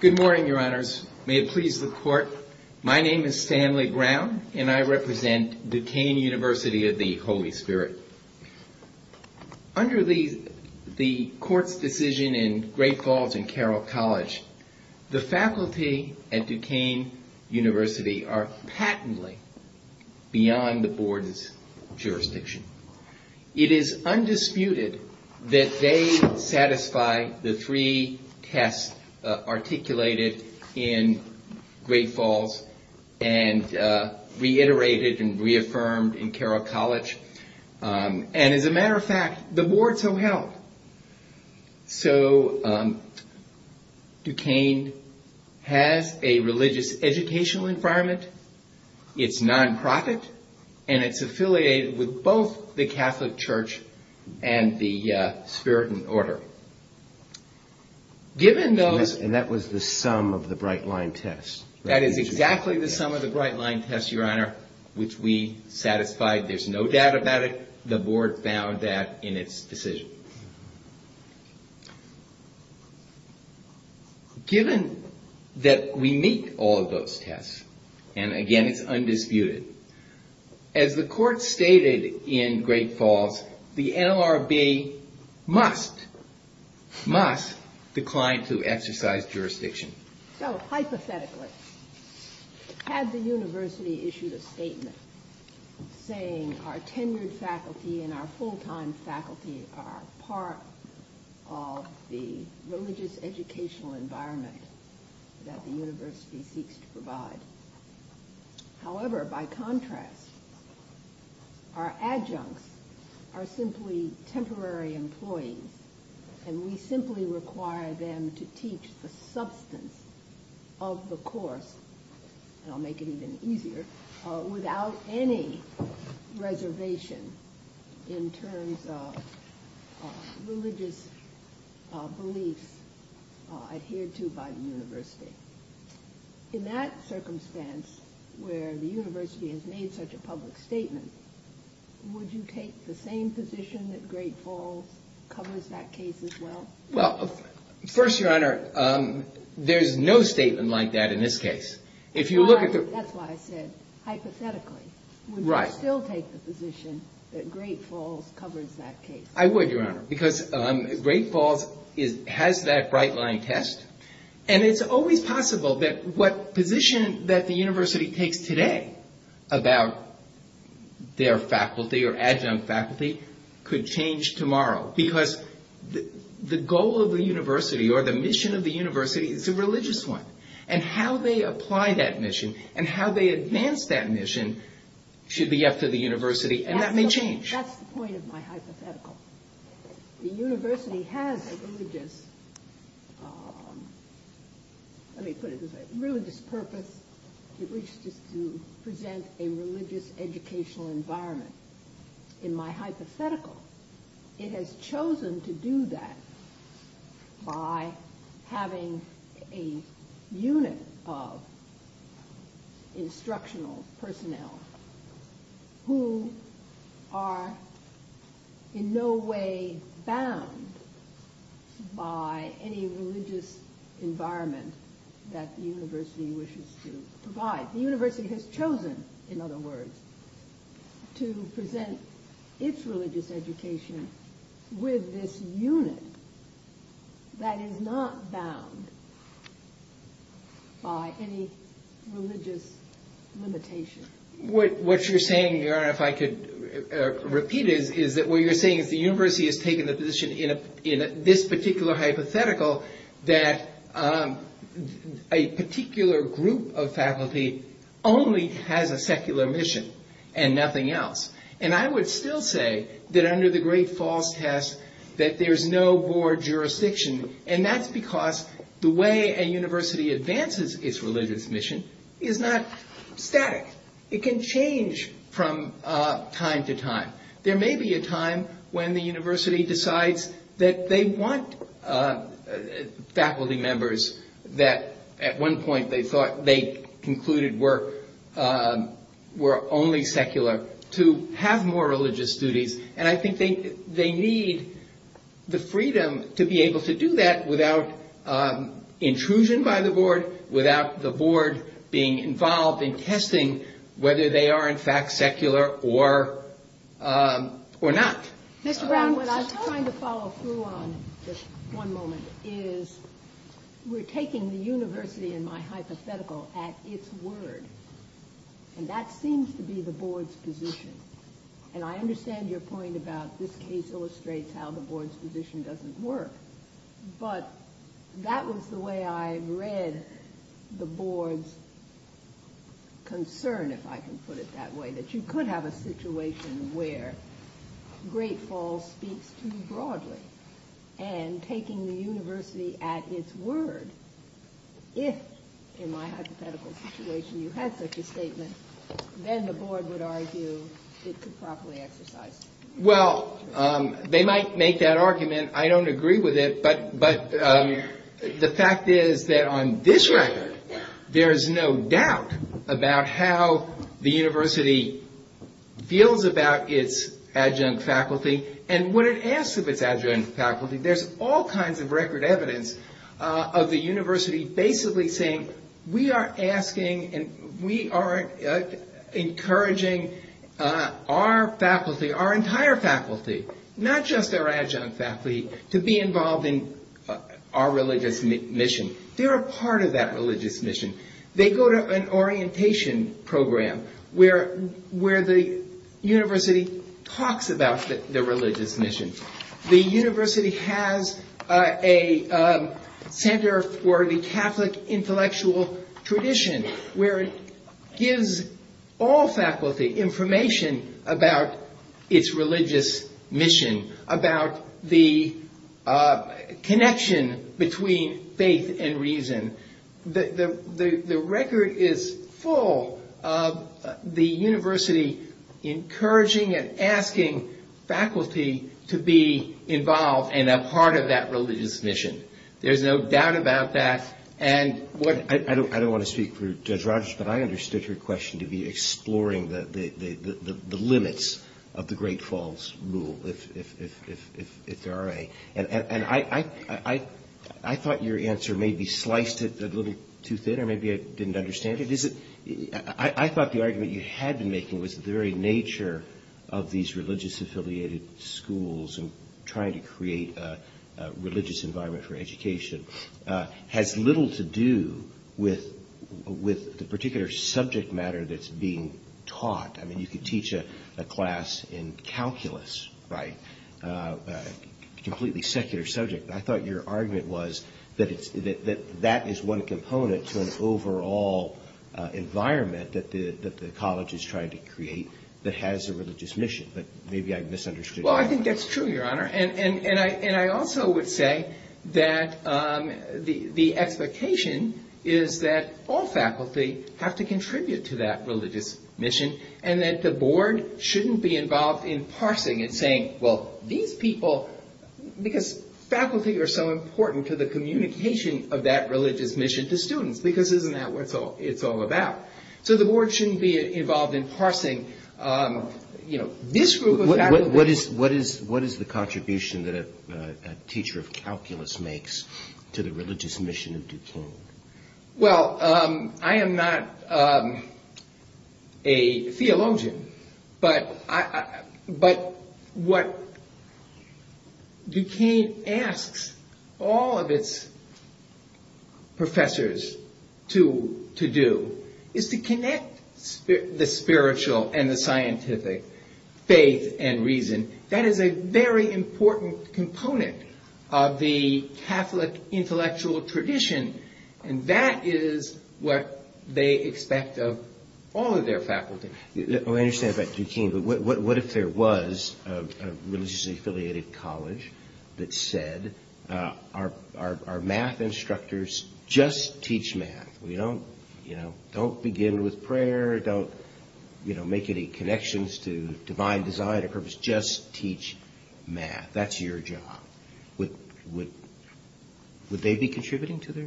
Good morning, your honors. May it please the court, my name is Stanley Brown, and I represent Duquesne University of the Holy Spirit. Under the court's decision in Great Falls and Carroll College, the faculty at Duquesne University are patently beyond the board's jurisdiction. It is undisputed that they satisfy the three tests articulated in Great Falls and reiterated and reaffirmed in Carroll College, and as a matter of fact, the board so held. So Duquesne has a religious educational environment, it's non-profit, and it's affiliated with both the Catholic Church and the Spirit and Order. And that was the sum of the Bright Line test. That is exactly the sum of the Bright Line test, your honor, which we satisfied. There's no doubt about it. The board found that in its decision. Given that we meet all of those tests, and again it's undisputed, as the court stated in Great Falls, the NLRB must, must decline to exercise jurisdiction. So hypothetically, had the university issued a statement saying our tenured faculty and our full-time faculty are part of the religious educational environment that the university seeks to provide. However, by contrast, our adjuncts are simply temporary employees, and we simply require them to teach the substance of the course, and I'll make it even easier, without any reservation in terms of religious belief adhered to by the university. In that circumstance, where the university has made such a public statement, would you take the same position that Great Falls covers that case as well? Well, first, your honor, there's no statement like that in this case. That's why I said, hypothetically. Right. Would you still take the position that Great Falls covers that case? I would, your honor, because Great Falls has that bright line test. And it's always possible that what position that the university takes today about their faculty or adjunct faculty could change tomorrow. Because the goal of the university, or the mission of the university, is a religious one. And how they apply that mission, and how they advance that mission, should be up to the university, and that may change. That's the point of my hypothetical. The university has a religious, let me put it this way, religious purpose in which to present a religious educational environment. In my hypothetical, it has chosen to do that by having a unit of instructional personnel who are in no way bound by any religious environment that the university wishes to provide. The university has chosen, in other words, to present its religious education with this unit that is not bound by any religious limitation. What you're saying, your honor, if I could repeat it, is that what you're saying is the university has taken the position in this particular hypothetical that a particular group of faculty only has a secular mission and nothing else. And I would still say that under the great false test that there is no more jurisdiction. And that's because the way a university advances its religious mission is not static. It can change from time to time. There may be a time when the university decides that they want faculty members that at one point they thought they concluded were only secular to have more religious duties. And I think they need the freedom to be able to do that without intrusion by the board, without the board being involved in testing whether they are in fact secular or not. What I was trying to follow through on, just one moment, is we're taking the university in my hypothetical at its word. And that seems to be the board's position. And I understand your point about this case illustrates how the board's position doesn't work. But that was the way I read the board's concern, if I can put it that way, that you could have a situation where great false speaks too broadly. And taking the university at its word, if in my hypothetical situation you had such a statement, then the board would argue it could properly exercise it. Well, they might make that argument. I don't agree with it. But the fact is that on this record there is no doubt about how the university feels about its adjunct faculty and what it asks of its adjunct faculty. There's all kinds of record evidence of the university basically saying we are asking and we are encouraging our faculty, our entire faculty, not just our adjunct faculty, to be involved in our religious mission. They're a part of that religious mission. They go to an orientation program where the university talks about the religious mission. The university has a center for the Catholic intellectual tradition where it gives all faculty information about its religious mission, about the connection between faith and reason. The record is full of the university encouraging and asking faculty to be involved and a part of that religious mission. There's no doubt about that. I don't want to speak for Judge Rogers, but I understood your question to be exploring the limits of the great false rule, if there are any. I thought your answer may be sliced a little too thin or maybe I didn't understand it. I thought the argument you had been making was the very nature of these religious affiliated schools and trying to create a religious environment for education has little to do with the particular subject matter that's being taught. You could teach a class in calculus, a completely secular subject. I thought your argument was that that is one component to an overall environment that the college is trying to create that has a religious mission, but maybe I misunderstood. I think that's true, Your Honor. I also would say that the expectation is that all faculty have to contribute to that religious mission and that the board shouldn't be involved in parsing and saying, Well, these people, because faculty are so important to the communication of that religious mission to students, because isn't that what it's all about? So, the board shouldn't be involved in parsing, you know, this group of faculty. What is the contribution that a teacher of calculus makes to the religious mission of diploma? Well, I am not a theologian, but what Duquesne asks all of its professors to do is to connect the spiritual and the scientific faith and reason. That is a very important component of the Catholic intellectual tradition, and that is what they expect of all of their faculty. I understand that, Duquesne, but what if there was a religiously affiliated college that said, Our math instructors just teach math. Don't begin with prayer. Don't make any connections to divine design or purpose. Just teach math. That's your job. Would they be contributing to their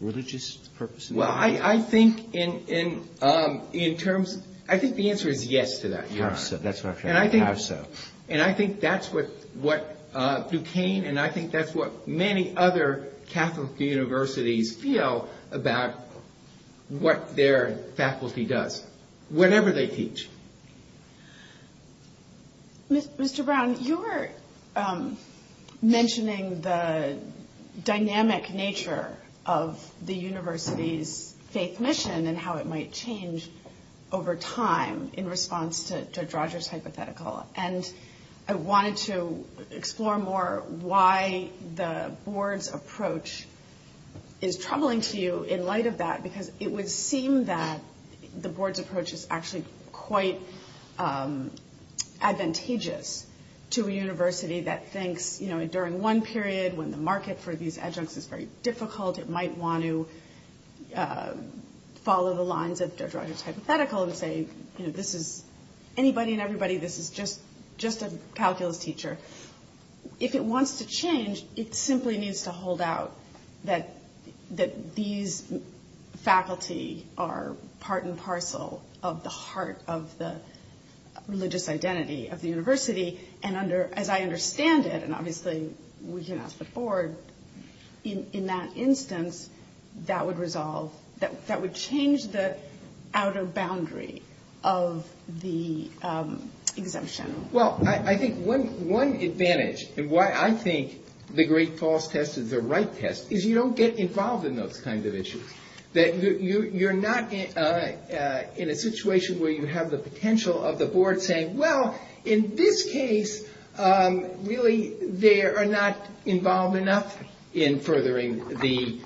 religious purpose? Well, I think the answer is yes to that, Your Honor. I think that's what Duquesne and I think that's what many other Catholic universities feel about what their faculty does. Whatever they teach. Mr. Brown, you were mentioning the dynamic nature of the university's faith mission and how it might change over time in response to Drodger's hypothetical, and I wanted to explore more why the board's approach is troubling to you in light of that, because it would seem that the board's approach is actually quite advantageous to a university that thinks, you know, during one period when the market for these adjuncts is very difficult, it might want to follow the lines of Drodger's hypothetical and say, you know, this is anybody and everybody, this is just a calculus teacher. If it wants to change, it simply needs to hold out that these faculty are part and parcel of the heart of the religious identity of the university, and as I understand it, and obviously we can ask the board, in that instance, that would resolve, that would change the outer boundary of the exemption. Well, I think one advantage, and why I think the great false test is the right test, is you don't get involved in those kinds of issues. You're not in a situation where you have the potential of the board saying, well, in this case, really, they are not involved enough in furthering the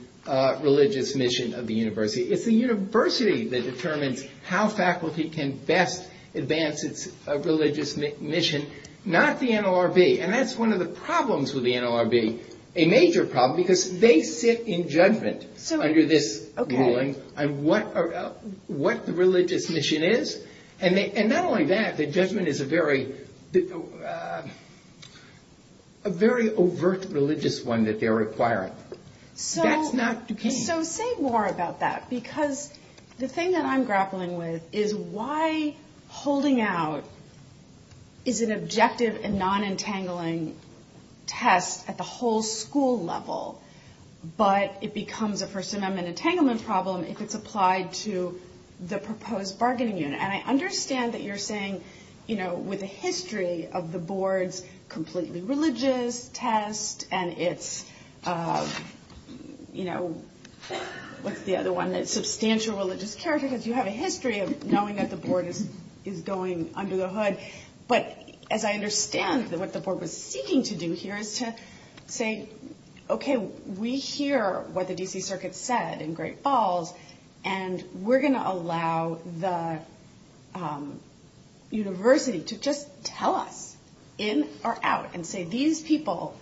religious mission of the university. It's the university that determines how faculty can best advance its religious mission, not the NLRB, and that's one of the problems with the NLRB, a major problem, because they sit in judgment under this ruling on what the religious mission is, and not only that, the judgment is a very overt religious one that they're acquiring. That's not the case. So say more about that, because the thing that I'm grappling with is why holding out is an objective and non-entangling test at the whole school level, but it becomes a first amendment entanglement problem if it's applied to the proposed bargaining unit, and I understand that you're saying, you know, with a history of the board's completely religious test, and it's, you know, what's the other one, that substantial religious character test, you have a history of knowing that the board is going under the hood, but as I understand, what the board was seeking to do here is to say, okay, we hear what the D.C. Circuit said in great false, and we're going to allow the university to just tell us, in or out, and say these people,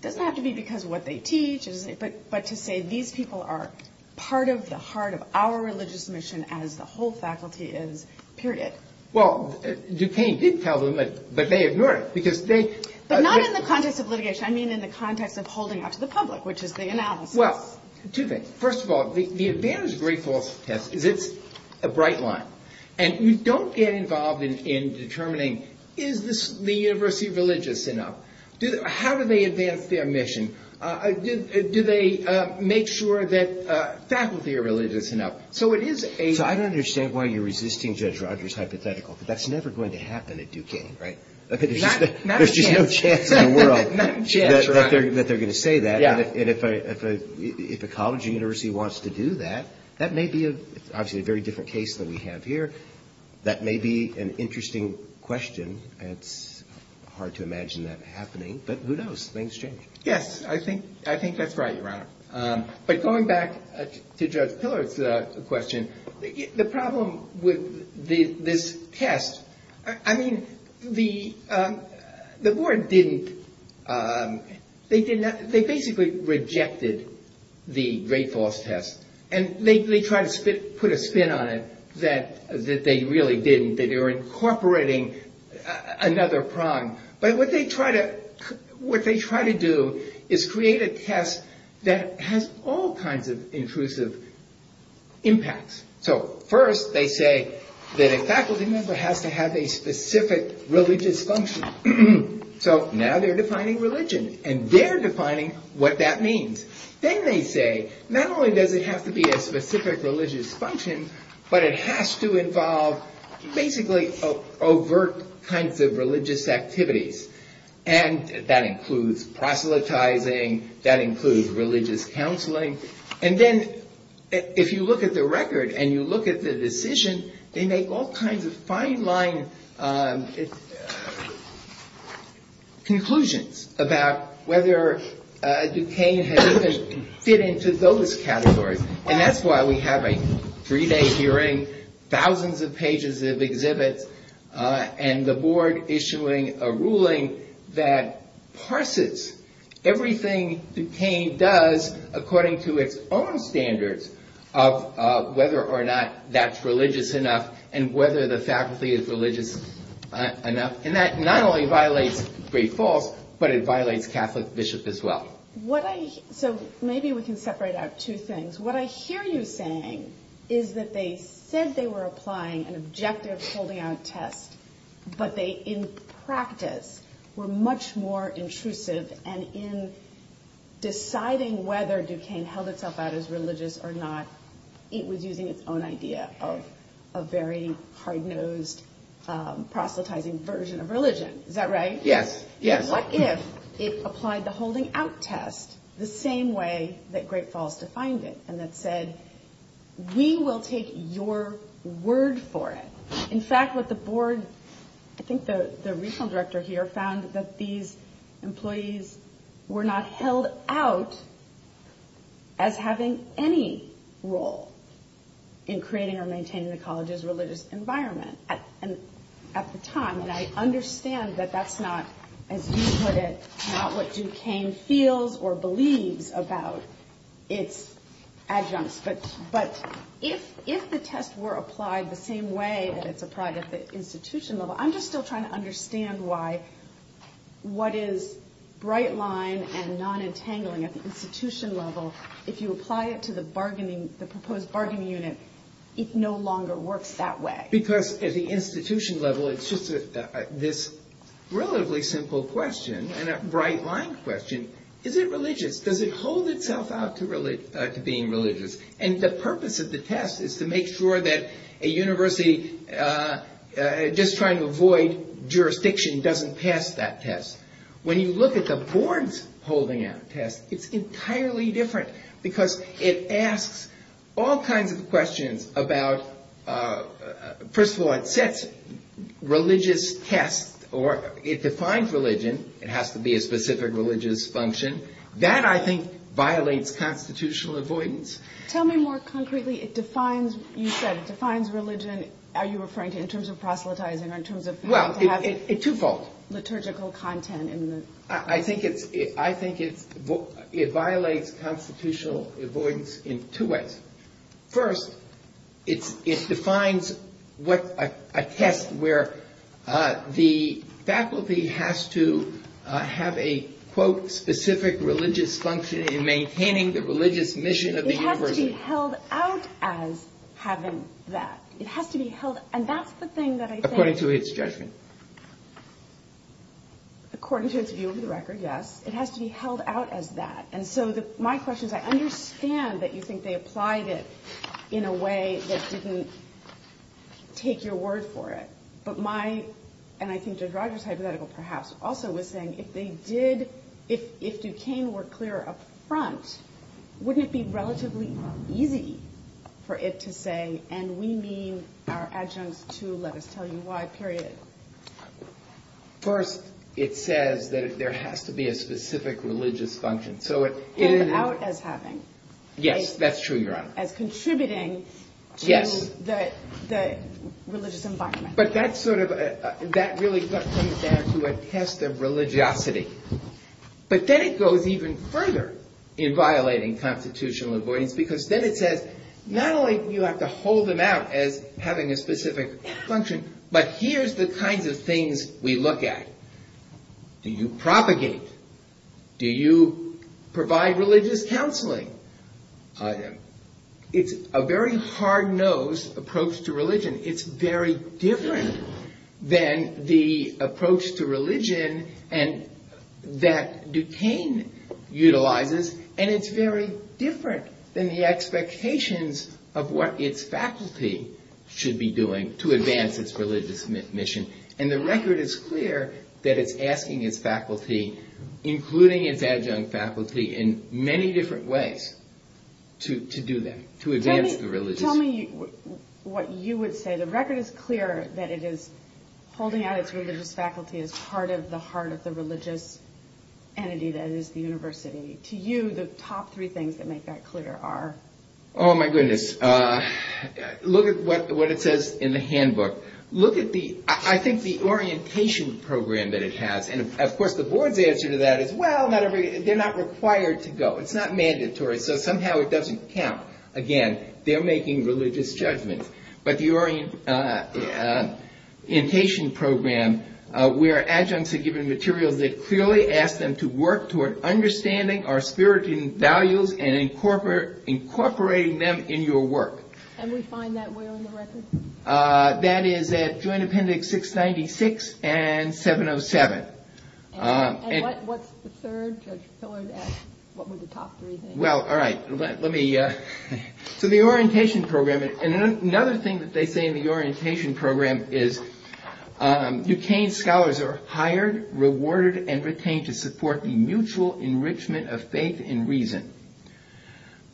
it doesn't have to be because of what they teach, but to say these people are part of the heart of our religious mission as the whole faculty is, period. Well, Duquesne did tell them, but they ignored it, because they... But not in the context of litigation, I mean in the context of holding out to the public, which is the analysis. Well, two things. First of all, the advantage of great false test is it's a bright line, and you don't get involved in determining, is the university religious enough? How do they advance their mission? Do they make sure that faculty are religious enough? So it is a... So I don't understand why you're resisting Judge Rogers' hypothetical, because that's never going to happen at Duquesne, right? Not a chance. There's no chance in the world that they're going to say that. And if a college university wants to do that, that may be a very different case than we have here. That may be an interesting question, and it's hard to imagine that happening, but who knows? Things change. Yes, I think that's right, Ron. But going back to Judge Pillard's question, the problem with this test, I mean, the board didn't... They basically rejected the great false test, and they tried to put a spin on it that they really didn't. They were incorporating another problem. But what they try to do is create a test that has all kinds of intrusive impacts. So first they say that a faculty member has to have a specific religious function. So now they're defining religion, and they're defining what that means. Then they say, not only does it have to be a specific religious function, but it has to involve basically overt kinds of religious activities. And that includes proselytizing. That includes religious counseling. And then if you look at the record and you look at the decision, they make all kinds of fine-line conclusions about whether Duquesne has even fit into those categories. And that's why we have a three-day hearing, thousands of pages of exhibits, and the board issuing a ruling that parses everything Duquesne does according to its own standards of whether or not that's religious enough and whether the faculty is religious enough. And that not only violates great false, but it violates Catholic bishop as well. So maybe we can separate out two things. What I hear you saying is that they said they were applying an objective holding out test, but they in practice were much more intrusive, and in deciding whether Duquesne held itself out as religious or not, it was using its own idea of a very hard-nosed, proselytizing version of religion. Is that right? Yes. What if it applied the holding out test the same way that great false defined it and then said, we will take your word for it? In fact, what the board, I think the regional director here, found that these employees were not held out as having any role in creating or maintaining the college's religious environment at the time. And I understand that that's not, as you put it, not what Duquesne feels or believes about its adjuncts. But if the tests were applied the same way that it's applied at the institution level, I'm just still trying to understand why what is bright line and non-entangling at the institution level, if you apply it to the bargaining, the proposed bargaining unit, it no longer works that way. Because at the institution level, it's just this relatively simple question and a bright line question. Is it religious? Does it hold itself out to being religious? And the purpose of the test is to make sure that a university, just trying to avoid jurisdiction, doesn't pass that test. When you look at the board's holding out test, it's entirely different. Because it asks all kinds of questions about, first of all, it sets religious tests or it defines religion. It has to be a specific religious function. That, I think, violates constitutional avoidance. Tell me more concretely. It defines, you said, it defines religion. Are you referring to in terms of proselytizing or in terms of... Well, it's twofold. Liturgical content in the... I think it violates constitutional avoidance in two ways. First, it defines a test where the faculty has to have a, quote, specific religious function in maintaining the religious mission of the university. It has to be held out as having that. It has to be held... And that's the thing that I think... According to its judgment. According to its review of the record, yes. It has to be held out as that. And so my question is, I understand that you think they applied it in a way that you can take your word for it. But my... And I think Judge Rogers hypothetical, perhaps, also was saying, if they did... Wouldn't it be relatively easy for it to say, and we need our adjuncts to let us tell you why, period. First, it says that there has to be a specific religious function. So it is... Held out as having. Yes, that's true, Your Honor. As contributing to the religious environment. But that's sort of... That really comes down to a test of religiosity. But then it goes even further in violating constitutional avoidance. Because then it says, not only do you have to hold them out as having a specific function. But here's the kind of things we look at. Do you propagate? Do you provide religious counseling? And it's very different than the approach to religion that Duquesne utilizes. And it's very different than the expectations of what its faculty should be doing to advance its religious mission. And the record is clear that it's asking its faculty, including its adjunct faculty, in many different ways to do that. To advance the religion. Tell me what you would say. The record is clear that it is holding out its religious faculty as part of the heart of the religious entity that is the university. To you, the top three things that make that clear are? Oh, my goodness. Look at what it says in the handbook. Look at the... I think the orientation program that it has. And, of course, the board's answer to that is, well, they're not required to go. It's not mandatory. So somehow it doesn't count. Again, they're making religious judgments. But the orientation program, where adjuncts are given materials, it clearly asks them to work toward understanding our spiritual values and incorporating them in your work. And we find that where in the record? That is at Joint Appendix 696 and 707. And what's the third? Well, all right. Let me... So the orientation program... And another thing that they say in the orientation program is, Utane scholars are hired, rewarded, and retained to support the mutual enrichment of faith and reason.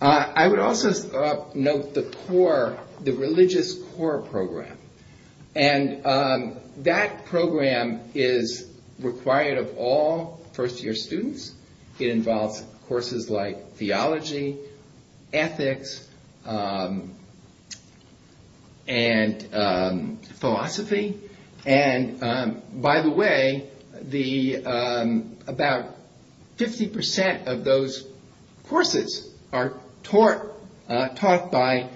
I would also note the core, the religious core program. And that program is required of all first-year students. It involves courses like theology, ethics, and philosophy. And, by the way, about 50% of those courses are taught by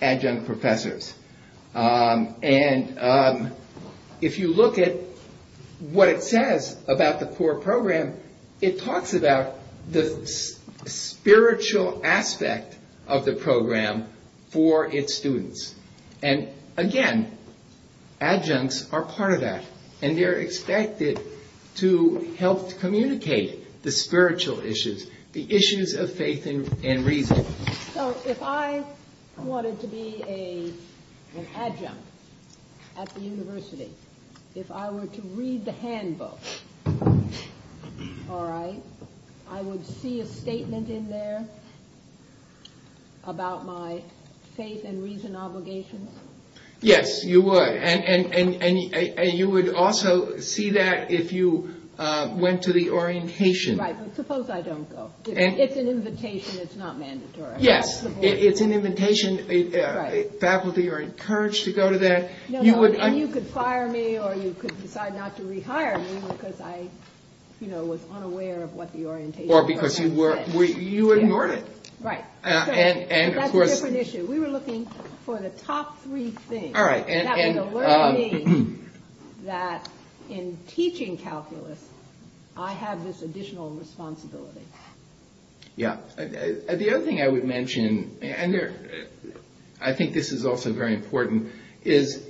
adjunct professors. And if you look at what it says about the core program, it talks about the spiritual aspect of the program for its students. And, again, adjuncts are part of that. And they're expected to help communicate the spiritual issues, the issues of faith and reason. So if I wanted to be an adjunct at the university, if I were to read the handbook, all right, I would see a statement in there about my faith and reason obligations. Yes, you would. And you would also see that if you went to the orientation. Right, but suppose I don't go. If it's an invitation, it's not mandatory. Yes, if it's an invitation, faculty are encouraged to go to that. And you could fire me or you could decide not to rehire me because I was unaware of what the orientation was. Or because you ignored it. Right. And, of course- That's a different issue. We were looking for the top three things. All right. That was the learning that in teaching calculus, I have this additional responsibility. Yes. The other thing I would mention, and I think this is also very important, is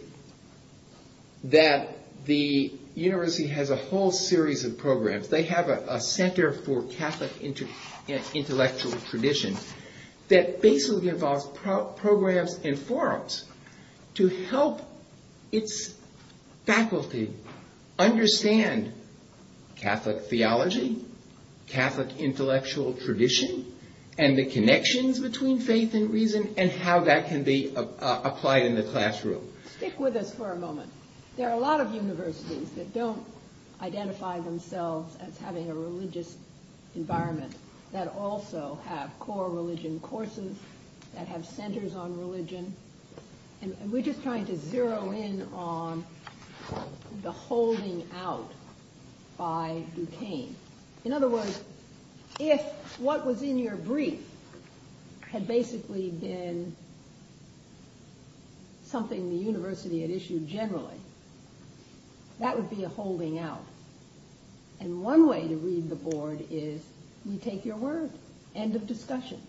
that the university has a whole series of programs. They have a center for Catholic intellectual tradition that basically involves programs and forums to help its faculty understand Catholic theology, Catholic intellectual tradition, and the connections between faith and reason, and how that can be applied in the classroom. Stick with us for a moment. There are a lot of universities that don't identify themselves as having a religious environment that also have core religion courses, that have centers on religion. And we're just trying to zero in on the holding out by Duquesne. In other words, if what was in your brief had basically been something the university had issued generally, that would be a holding out. And one way to read the board is, you take your word. End of discussion.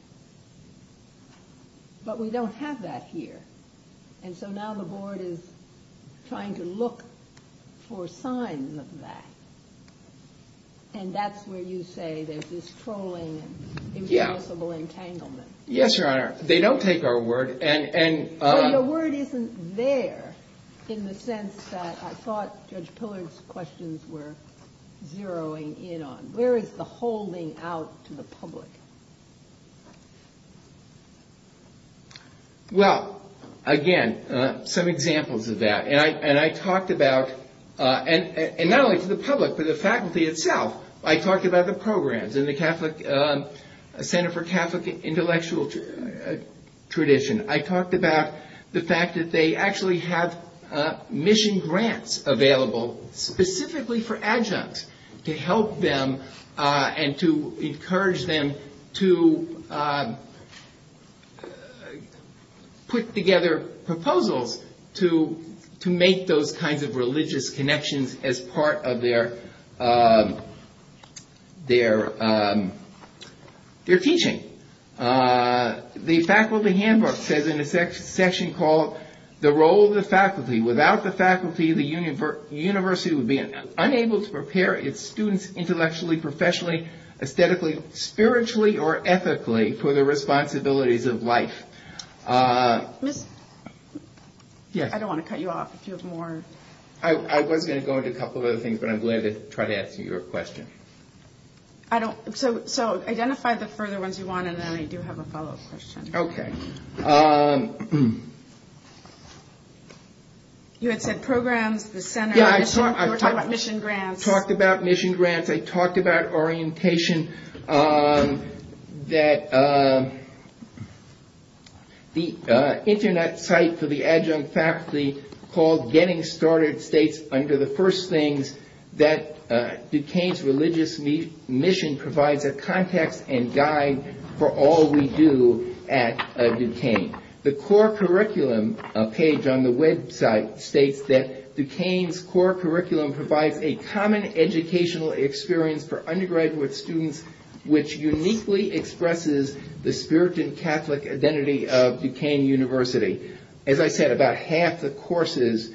But we don't have that here. And so now the board is trying to look for signs of that. And that's where you say there's this trolling and irresponsible entanglement. Yes, Your Honor. They don't take our word. And the word isn't there in the sense that I thought Judge Pillard's questions were zeroing in on. Where is the holding out to the public? Well, again, some examples of that. And I talked about, and not only to the public, but the faculty itself. I talked about the programs in the Center for Catholic Intellectual Tradition. And I talked about the fact that they actually have mission grants available, specifically for adjuncts, to help them and to encourage them to put together proposals to make those kinds of religious connections as part of their teaching. The faculty handbook says in the section called, the role of the faculty. Without the faculty, the university would be unable to prepare its students intellectually, professionally, aesthetically, spiritually, or ethically for the responsibilities of life. I don't want to cut you off if you have more. I was going to go into a couple of other things, but I'm glad to try to answer your question. So, identify the further ones you want, and then I do have a follow-up question. Okay. You had said programs, the center, mission grants. I talked about mission grants. I talked about orientation. The Internet site for the adjunct faculty called Getting Started states, under the first things, that Duquesne's religious mission provides a context and guide for all we do at Duquesne. The core curriculum page on the website states that Duquesne's core curriculum provides a common educational experience for undergraduate students, which uniquely expresses the spirit and Catholic identity of Duquesne University. As I said, about half the courses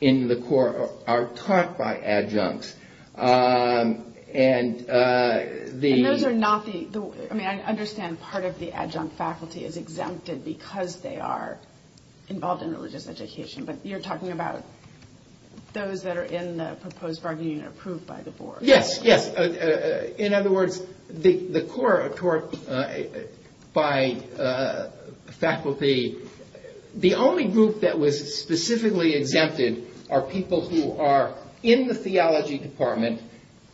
in the core are taught by adjuncts. And those are not the – I mean, I understand part of the adjunct faculty is exempted because they are involved in religious education, but you're talking about those that are in the proposed bargaining unit approved by the board. Yes, yes. In other words, the core are taught by faculty. The only group that was specifically exempted are people who are in the theology department.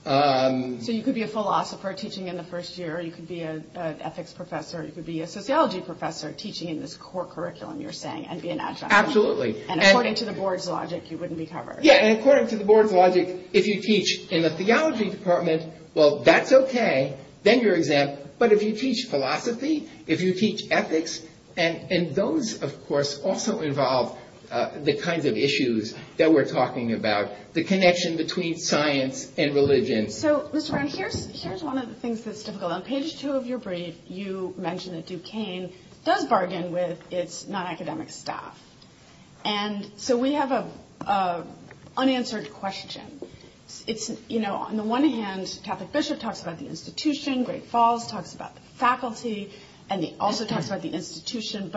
So, you could be a philosopher teaching in the first year. You could be an ethics professor. You could be a sociology professor teaching in this core curriculum, you're saying, and be an adjunct. Absolutely. And according to the board's logic, you wouldn't be covered. Yeah, and according to the board's logic, if you teach in the theology department, well, that's okay. Then you're exempt. But if you teach philosophy, if you teach ethics, and those, of course, also involve the kinds of issues that we're talking about, the connection between science and religion. So, Mr. Brown, here's one of the things that's difficult. On page two of your brief, you mentioned that Duquesne does bargain with its non-academic staff. And so, we have an unanswered question. It's, you know, on the one hand, Catholic Bishop talks about the institution. Great Falls talks about the faculty. And they also talk about the institution.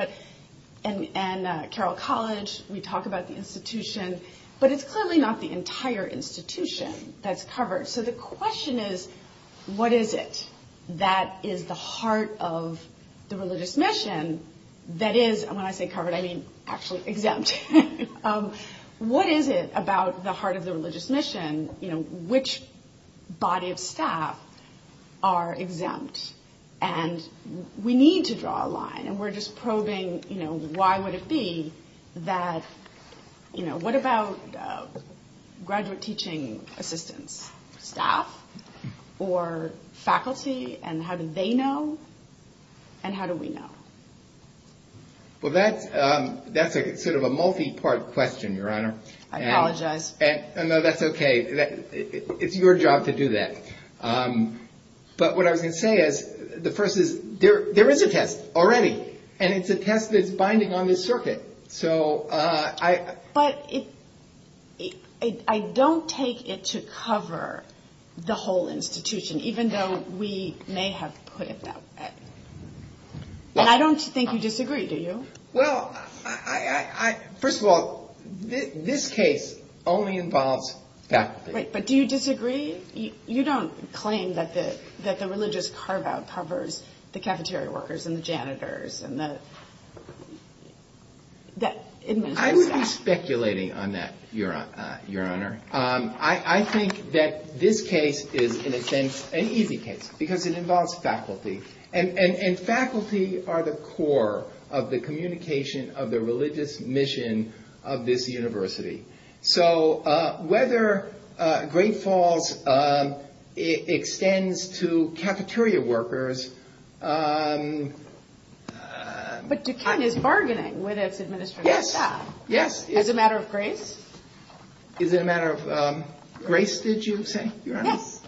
And Carroll College, we talk about the institution. But it's clearly not the entire institution that's covered. So, the question is, what is it that is the heart of the religious mission that is, when I say covered, I mean actually exempt. What is it about the heart of the religious mission, you know, which body of staff are exempt? And we need to draw a line. And we're just probing, you know, why would it be that, you know, what about graduate teaching assistants, staff or faculty? And how do they know? And how do we know? Well, that's sort of a multi-part question, Your Honor. I apologize. And that's okay. It's your job to do that. But what I'm going to say is, the first is, there is a test already. And it's a test that's binding on the circuit. So, I... But I don't take it to cover the whole institution, even though we may have put it that way. And I don't think you disagree, do you? Well, I... First of all, this case only involves faculty. But do you disagree? You don't claim that the religious carve-out covers the cafeteria workers and the janitors and the... I wouldn't be speculating on that, Your Honor. I think that this case is, in a sense, an easy case. Because it involves faculty. And faculty are the core of the communication of the religious mission of this university. So, whether Great Falls extends to cafeteria workers... Yes. Yes. As a matter of grace? As a matter of grace, did you say, Your Honor? Yes.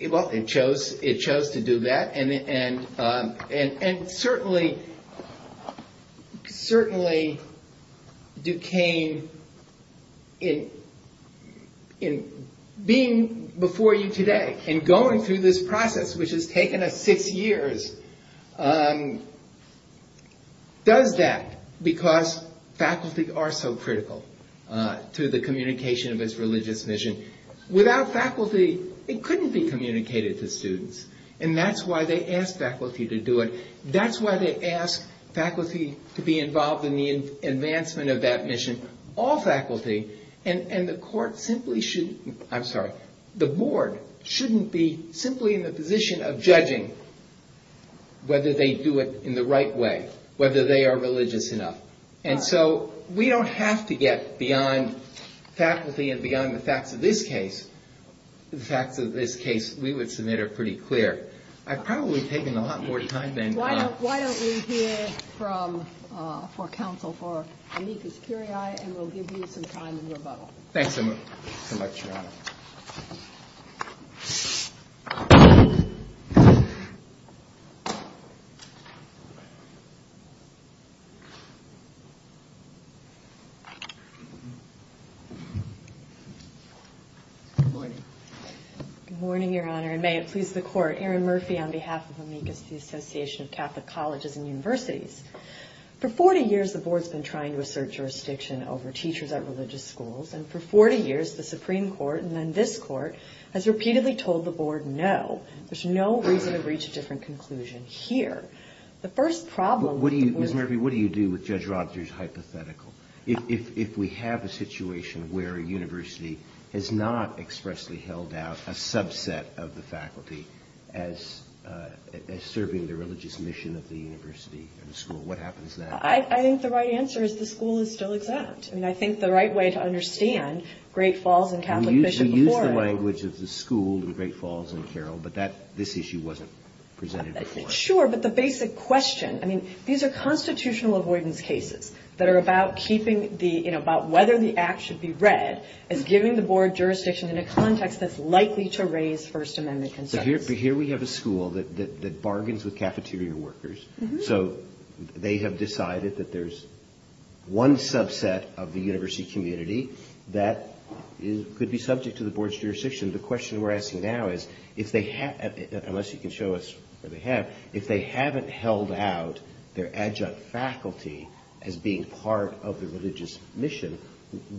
Well, it chose to do that. And certainly, Duquesne, in being before you today and going through this process, which has taken us six years, does that because faculty are so critical to the communication of this religious mission. Without faculty, it couldn't be communicated to students. And that's why they ask faculty to do it. That's why they ask faculty to be involved in the advancement of that mission. All faculty. And the board shouldn't be simply in the position of judging whether they do it in the right way, whether they are religious enough. And so, we don't have to get beyond faculty and beyond the facts of this case. The facts of this case, we would submit are pretty clear. I've probably taken a lot more time than... Why don't we hear from counsel for Aneka Securi and we'll give you some time to rebuttal. Thank you, Your Honor. Good morning, Your Honor. Good morning, Your Honor. And may it please the Court. Erin Murphy on behalf of the Anika Securi Association of Catholic Colleges and Universities. For 40 years, the board's been trying to assert jurisdiction over teachers at religious schools. And for 40 years, the Supreme Court and then this Court has repeatedly told the board no. There's no reason to reach a different conclusion here. The first problem... Ms. Murphy, what do you do with Judge Rogers' hypothetical? If we have a situation where a university has not expressly held out a subset of the faculty as serving the religious mission of the university and the school, what happens then? I think the right answer is the school is still exempt. And I think the right way to understand Great Falls and Catholic Fisher before... You used the language of the school in Great Falls and Carroll, but this issue wasn't presented before. Sure, but the basic question... These are constitutional avoidance cases that are about whether the act should be read and giving the board jurisdiction in a context that's likely to raise First Amendment concerns. Here we have a school that bargains with cafeteria workers. So they have decided that there's one subset of the university community that could be subject to the board's jurisdiction. The question we're asking now is, unless you can show us what they have, if they haven't held out their adjunct faculty as being part of the religious mission,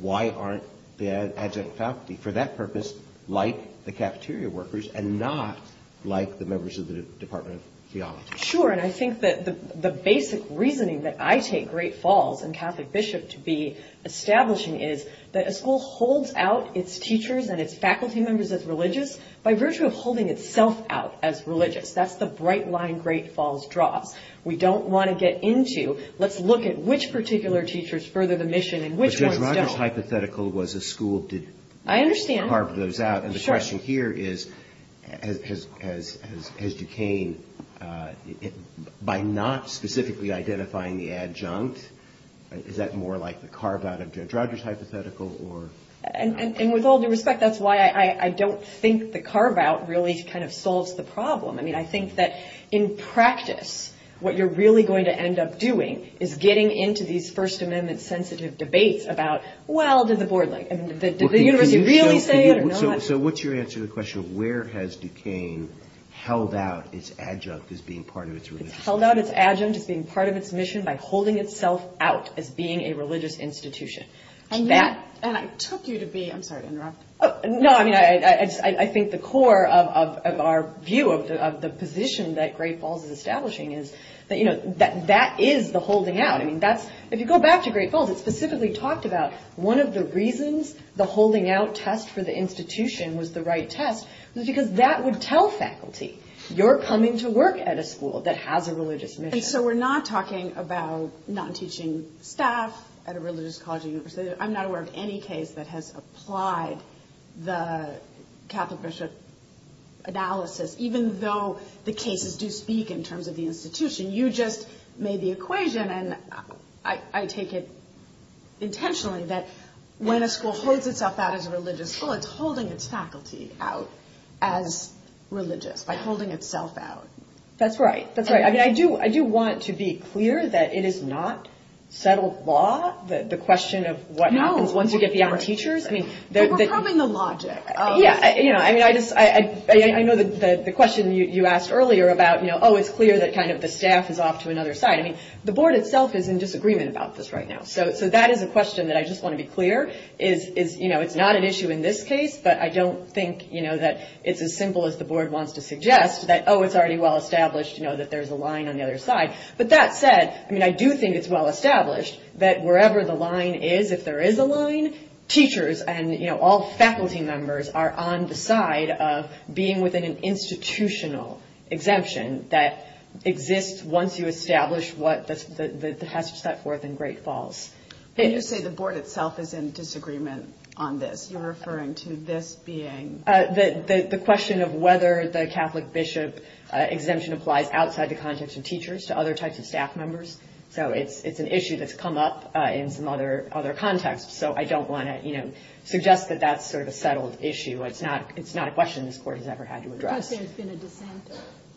why aren't they adjunct faculty? For that purpose, like the cafeteria workers and not like the members of the Department of Theology. Sure, and I think that the basic reasoning that I take Great Falls and Catholic Bishop to be establishing is that a school holds out its teachers and its faculty members as religious by virtue of holding itself out as religious. That's the bright line Great Falls draws. We don't want to get into... Let's look at which particular teachers further the mission and which ones don't. Judge Rogers' hypothetical was a school to carve those out. I understand. And the question here is, has decayed by not specifically identifying the adjunct? Is that more like the carve-out of Judge Rogers' hypothetical? And with all due respect, that's why I don't think the carve-out really kind of solves the problem. I mean, I think that in practice, what you're really going to end up doing is getting into these First Amendment-sensitive debates about, well, does the board like it? Did you really say it or not? So what's your answer to the question of where has decaying held out its adjunct as being part of its mission? It's held out its adjunct as being part of its mission by holding itself out as being a religious institution. And I took you to be... I'm sorry. No, I mean, I think the core of our view of the position that Great Falls is establishing is that, you know, that is the holding out. If you go back to Great Falls, it specifically talked about one of the reasons the holding out test for the institution was the right test was because that would tell faculty, you're coming to work at a school that has a religious mission. And so we're not talking about non-teaching staff at a religious college. I'm not aware of any case that has applied the Catholic-Bishop analysis, even though the cases do speak in terms of the institution. You just made the equation, and I take it intentionally, that when a school holds itself out as a religious school, it's holding its faculty out as religious, by holding itself out. That's right. That's right. I mean, I do want to be clear that it is not settled law, the question of what happens once you get the other teachers. We're probing the logic. Yeah, I know the question you asked earlier about, you know, oh, it's clear that kind of the staff is off to another side. I mean, the board itself is in disagreement about this right now. So that is a question that I just want to be clear. It's not an issue in this case, but I don't think, you know, that it's as simple as the board wants to suggest that, oh, it's already well established, you know, that there's a line on the other side. But that said, I mean, I do think it's well established that wherever the line is, if there is a line, teachers and, you know, all faculty members are on the side of being within an institutional exemption that exists once you establish what the statute set forth in Great Falls. Did you say the board itself is in disagreement on this? You're referring to this being? The question of whether the Catholic bishop exemption applies outside the context of teachers to other types of staff members. So it's an issue that's come up in some other contexts. So I don't want to, you know, suggest that that's sort of a settled issue. It's not a question this court has ever had to address. So it's been a dissent?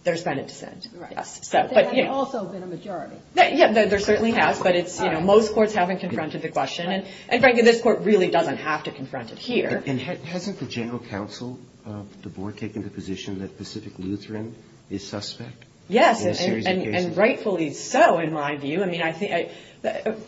There's been a dissent. Right. There's also been a majority. Yeah, there certainly has. But it's, you know, most courts haven't confronted the question. And frankly, this court really doesn't have to confront it here. And hasn't the general counsel of the board taken the position that Pacific Lutheran is suspect? Yes, and rightfully so in my view. I mean,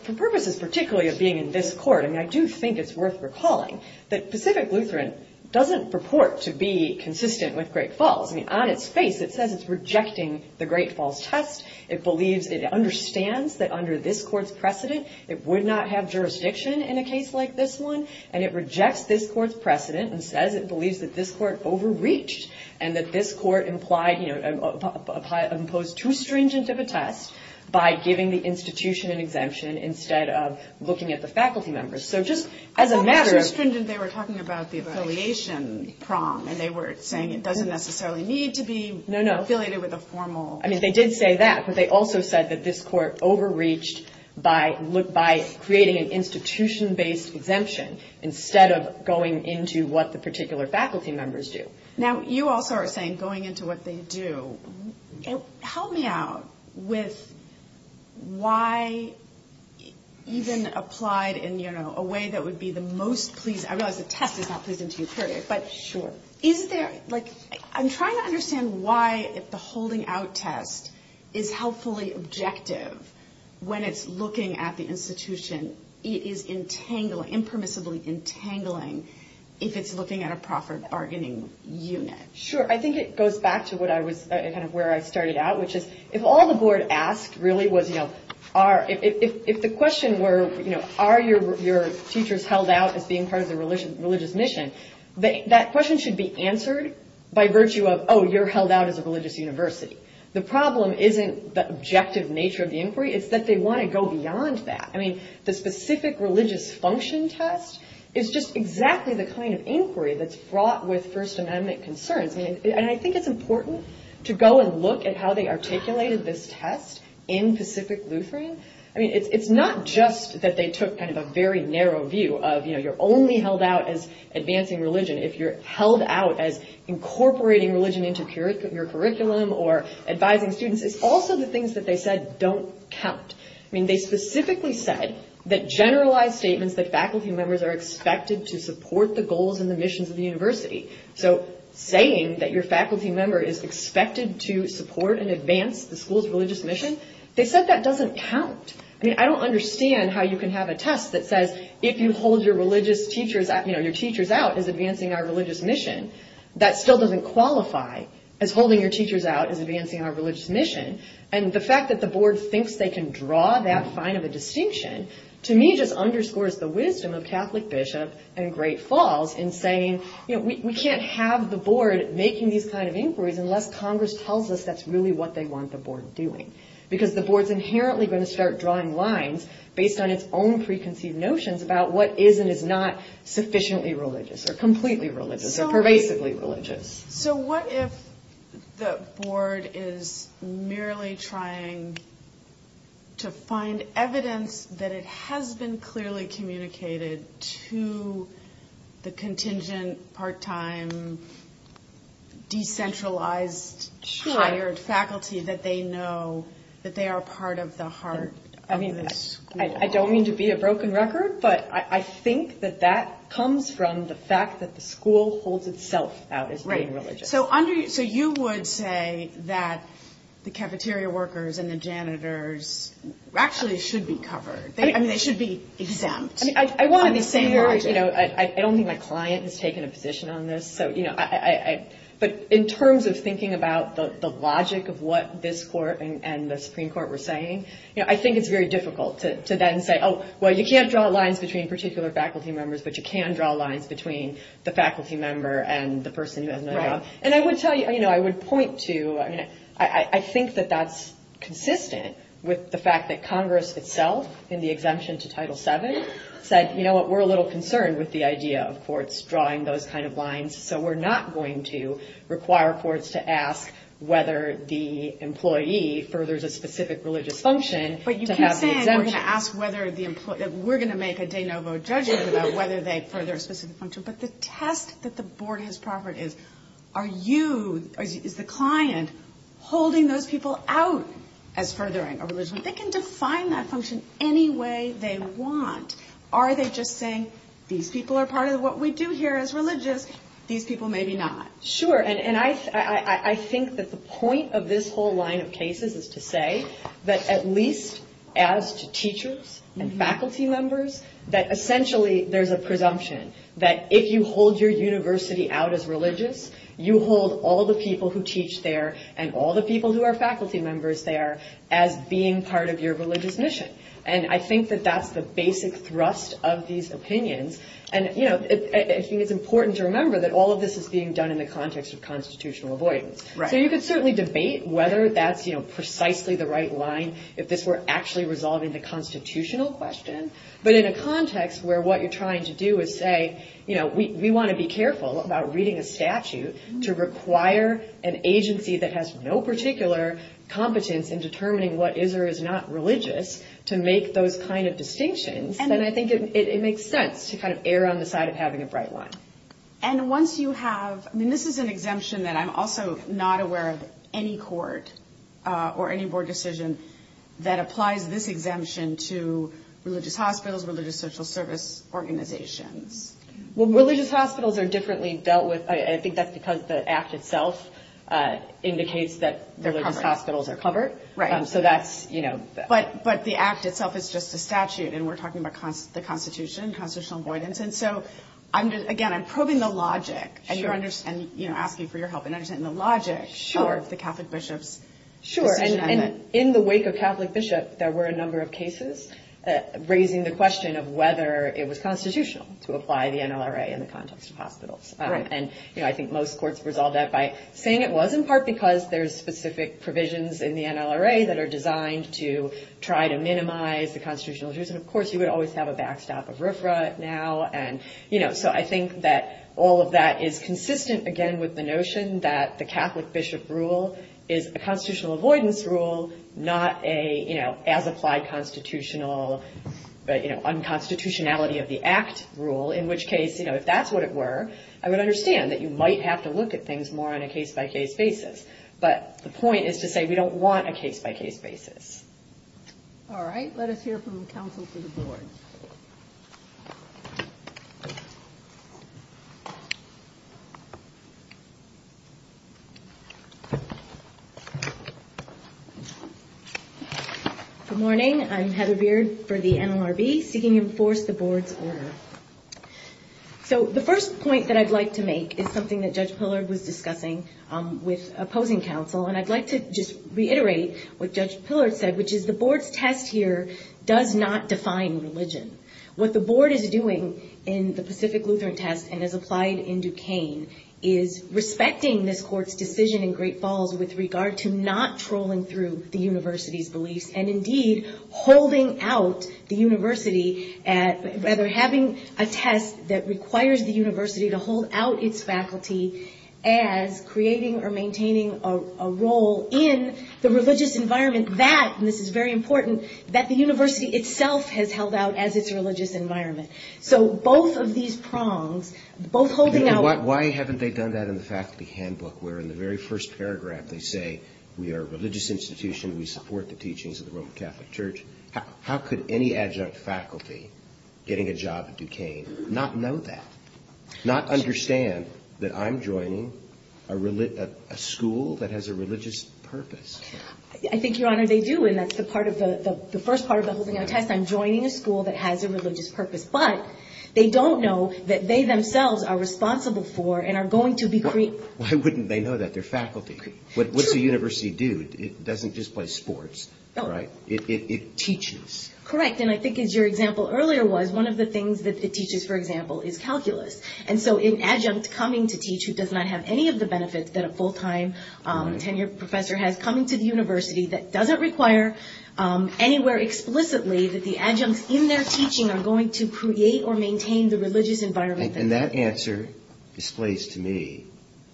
for purposes particularly of being in this court, I mean, I do think it's worth recalling that Pacific Lutheran doesn't purport to be consistent with Great Falls. I mean, on its face it says it's rejecting the Great Falls test. It believes it understands that under this court's precedent it would not have jurisdiction in a case like this one. And it rejects this court's precedent and says it believes that this court overreached and that this court implied, you know, imposed too stringent of a test by giving the institution an exemption instead of looking at the faculty members. So just as a matter of- Too stringent, they were talking about the affiliation prong and they were saying it doesn't necessarily need to be affiliated with a formal- No, no. Instead of going into what the particular faculty members do. Now, you also are saying going into what they do. Help me out with why even applied in, you know, a way that would be the most pleasing- I realize the test is not pleasing to the jury, but- Sure. Isn't there, like- I'm trying to understand why if the holding out test is helpfully objective when it's looking at the institution, it is impermissibly entangling if it's looking at a proper bargaining unit. Sure. I think it goes back to where I started out, which is if all the board asked really was, you know, if the question were, you know, are your teachers held out as being part of the religious mission, that question should be answered by virtue of, oh, you're held out as a religious university. The problem isn't the objective nature of the inquiry. It's that they want to go beyond that. I mean, the specific religious function test is just exactly the kind of inquiry that's brought with First Amendment concerns. And I think it's important to go and look at how they articulated this test in Pacific Lutheran. I mean, it's not just that they took kind of a very narrow view of, you know, you're only held out as advancing religion if you're held out as incorporating religion into your curriculum or advising students. It's also the things that they said don't count. I mean, they specifically said that generalized statements that faculty members are expected to support the goals and the missions of the university. So saying that your faculty member is expected to support and advance the school's religious mission, they said that doesn't count. I mean, I don't understand how you can have a test that says if you hold your religious teachers out, you know, your teachers out as advancing our religious mission, that still doesn't qualify as holding your teachers out as advancing our religious mission. And the fact that the board thinks they can draw that sign of a distinction, to me, just underscores the wisdom of Catholic bishops and Great Falls in saying, you know, we can't have the board making these kind of inquiries unless Congress tells us that's really what they want the board doing. Because the board's inherently going to start drawing lines based on its own preconceived notions about what is sufficiently religious or completely religious or pervasively religious. So what if the board is merely trying to find evidence that it has been clearly communicated to the contingent, part-time, decentralized, hired faculty that they know that they are part of the heart of the school? I don't mean to be a broken record, but I think that that comes from the fact that the school holds itself out as being religious. So you would say that the cafeteria workers and the janitors actually should be covered. I mean, they should be exempt. I don't think my client has taken a position on this, but in terms of thinking about the logic of what this court and the Supreme Court were saying, you know, I think it's very difficult to then say, oh, well, you can't draw lines between particular faculty members, but you can draw lines between the faculty member and the person who doesn't know. And I would tell you, you know, I would point to, I mean, I think that that's consistent with the fact that Congress itself in the exemption to Title VII said, you know what, we're a little concerned with the idea of courts drawing those kind of lines, so we're not going to require courts to ask whether the employee furthers a specific religious function. But you keep saying we're going to ask whether the employee, we're going to make a de novo judgment about whether they further a specific function, but the test that the board has to offer is, are you, is the client holding those people out as furthering a religious function? They can define that function any way they want. Are they just saying these people are part of what we do here as religious, these people maybe not? Sure. And I think that the point of this whole line of cases is to say that at least as teachers and faculty members, that essentially there's a presumption that if you hold your university out as religious, you hold all the people who teach there and all the people who are faculty members there as being part of your religious mission. And I think that that's the basic thrust of these opinions. And, you know, it's important to remember that all of this is being done in the context of constitutional avoidance. Right. So you can certainly debate whether that's, you know, precisely the right line, if this were actually resolving the constitutional question, but in a context where what you're trying to do is say, you know, we want to be careful about reading a statute to require an agency that has no particular competence in determining what is or is not religious to make those kind of distinctions, then I think it makes sense to kind of err on the side of having a bright line. And once you have, I mean, this is an exemption that I'm also not aware of any court or any board decision that applies this exemption to religious hospitals, religious social service organizations. Well, religious hospitals are differently dealt with. I think that's because the act itself indicates that religious hospitals are covered. Right. So that's, you know. But the act itself is just a statute. And we're talking about the Constitution, constitutional avoidance. And so, again, I'm probing the logic and asking for your help in understanding the logic of the Catholic bishops. Sure. And in the wake of Catholic bishops, there were a number of cases raising the question of whether it was constitutional to apply the NLRA in the context of hospitals. And, you know, I think most courts resolve that by saying it was, in part because there's specific provisions in the NLRA that are designed to try to minimize the constitutional issues. And, of course, you would always have a backstop of RFRA now. And, you know, so I think that all of that is consistent, again, with the notion that the Catholic bishop rule is a constitutional avoidance rule, not a, you know, as-applied constitutional, you know, unconstitutionality of the act rule, in which case, you know, if that's what it were, I would understand that you might have to look at things more on a case-by-case basis. But the point is to say we don't want a case-by-case basis. All right. Thank you. Good morning. I'm Heather Beard for the NLRB, seeking to enforce the board's order. So the first point that I'd like to make is something that Judge Pillard was discussing with opposing counsel. And I'd like to just reiterate what Judge Pillard said, which is the board's test here does not define religion. What the board is doing in the Pacific Lutheran test and has applied in Duquesne is respecting this court's decision in Great Falls with regard to not trolling through the university's belief and, indeed, holding out the university, rather having a test that requires the university to hold out its faculty as creating or maintaining a role in the religious environment that, and this is very important, that the university itself has held out as its religious environment. So both of these prongs, both holding out- Why haven't they done that in the faculty handbook, where in the very first paragraph they say, we are a religious institution, we support the teachings of the Roman Catholic Church. How could any adjunct faculty getting a job at Duquesne not know that, not understand that I'm joining a school that has a religious purpose? I think, Your Honor, they do. And that's the first part of the test, I'm joining a school that has a religious purpose. But they don't know that they themselves are responsible for and are going to be creating- Why wouldn't they know that? They're faculty. What does a university do? It doesn't just play sports, right? It teaches. Correct. And I think as your example earlier was, one of the things that it teaches, for example, is calculus. And so an adjunct coming to teach who does not have any of the benefits that a full-time tenured professor has coming to the university that doesn't require anywhere explicitly that the adjuncts in their teaching are going to create or maintain the religious environment- And that answer displays to me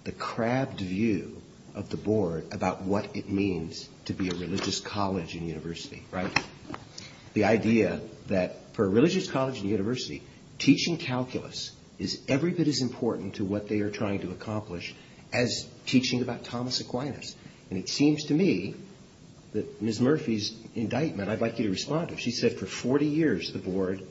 the crabbed view of the board about what it means to be a religious college and university, right? The idea that for a religious college and university, teaching calculus is every bit as important to what they are trying to accomplish as teaching about Thomas Aquinas. And it seems to me that Ms. Murphy's indictment, I'd like you to respond to it. She said for 40 years the board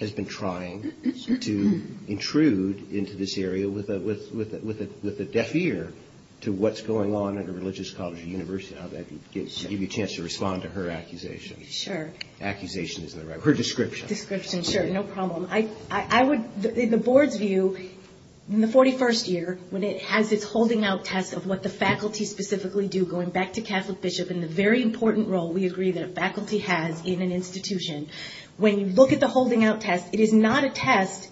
has been trying to intrude into this area with a deaf ear to what's going on in a religious college and university. I'll give you a chance to respond to her accusation. Sure. Accusation is the right word. Her description. Description, sure. No problem. In the board's view, in the 41st year, when it has this holding out test of what the faculty specifically do, going back to Catholic Bishop and the very important role we agree that faculty has in an institution, when you look at the holding out test, it is not a test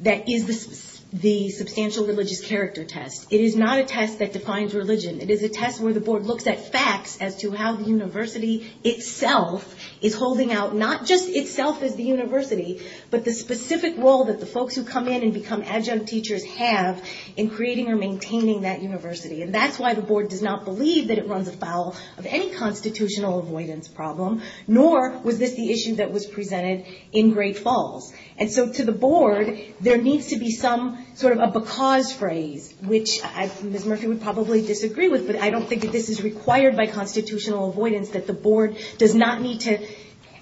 that is the substantial religious character test. It is not a test that defines religion. It is a test where the board looks at facts as to how the university itself is holding out, not just itself as the university, but the specific role that the folks who come in and become adjunct teachers have in creating or maintaining that university. And that's why the board does not believe that it runs afoul of any constitutional avoidance problem, nor was this the issue that was presented in Great Falls. And so to the board, there needs to be some sort of a because phrase, which Ms. Murphy would probably disagree with, but I don't think that this is required by constitutional avoidance, that the board does not need to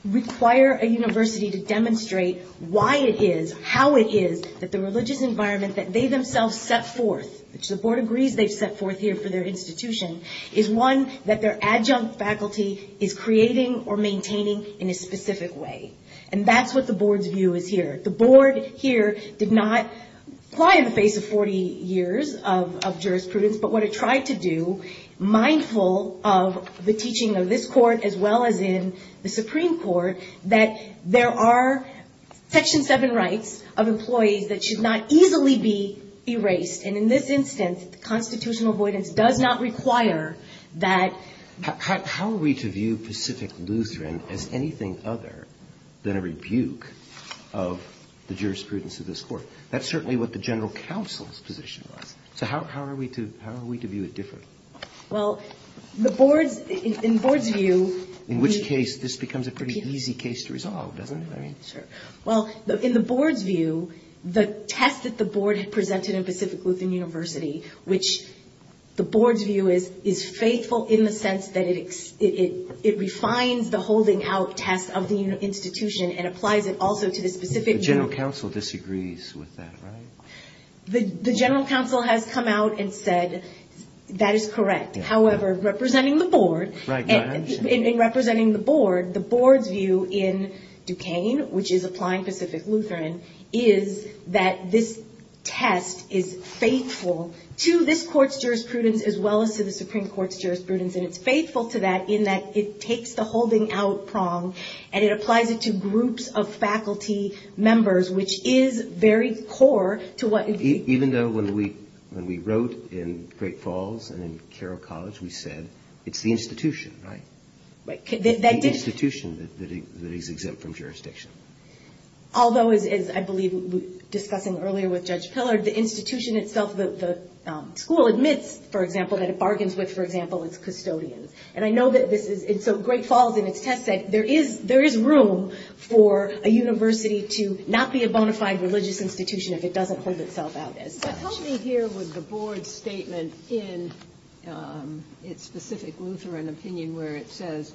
require a university to demonstrate why it is, how it is, that the religious environment that they themselves set forth, which the board agrees they set forth here for their institution, is one that their adjunct faculty is creating or maintaining in a specific way. And that's what the board's view is here. The board here did not fly in the face of 40 years of jurisprudence, but what it tried to do, mindful of the teaching of this court as well as in the Supreme Court, that there are Section 7 rights of employees that should not easily be erased. And in this instance, constitutional avoidance does not require that. How are we to view Pacific Lutheran as anything other than a rebuke of the jurisprudence of this court? That's certainly what the general counsel's position was. So how are we to view it differently? Well, in the board's view... In which case, this becomes a pretty easy case to resolve, doesn't it? Well, in the board's view, the test that the board had presented in Pacific Lutheran University, which the board's view is faithful in the sense that it refines the holding out test of the institution and applies it also to the specific... The general counsel disagrees with that, right? The general counsel has come out and said, that is correct. However, representing the board, the board's view in Duquesne, which is applying Pacific Lutheran, is that this test is faithful to this court's jurisprudence as well as to the Supreme Court's jurisprudence. And it's faithful to that in that it takes the holding out prong and it applies it to groups of faculty members, which is very core to what... Even though when we wrote in Great Falls and in Carroll College, we said, it's the institution, right? The institution that is exempt from jurisdiction. Although, as I believe we discussed earlier with Judge Pillard, the institution itself, the school admits, for example, that it bargains with, for example, its custodians. And I know that in Great Falls, there is room for a university to not be a bona fide religious institution if it doesn't hold itself out as such. Help me here with the board's statement in its Pacific Lutheran opinion where it says,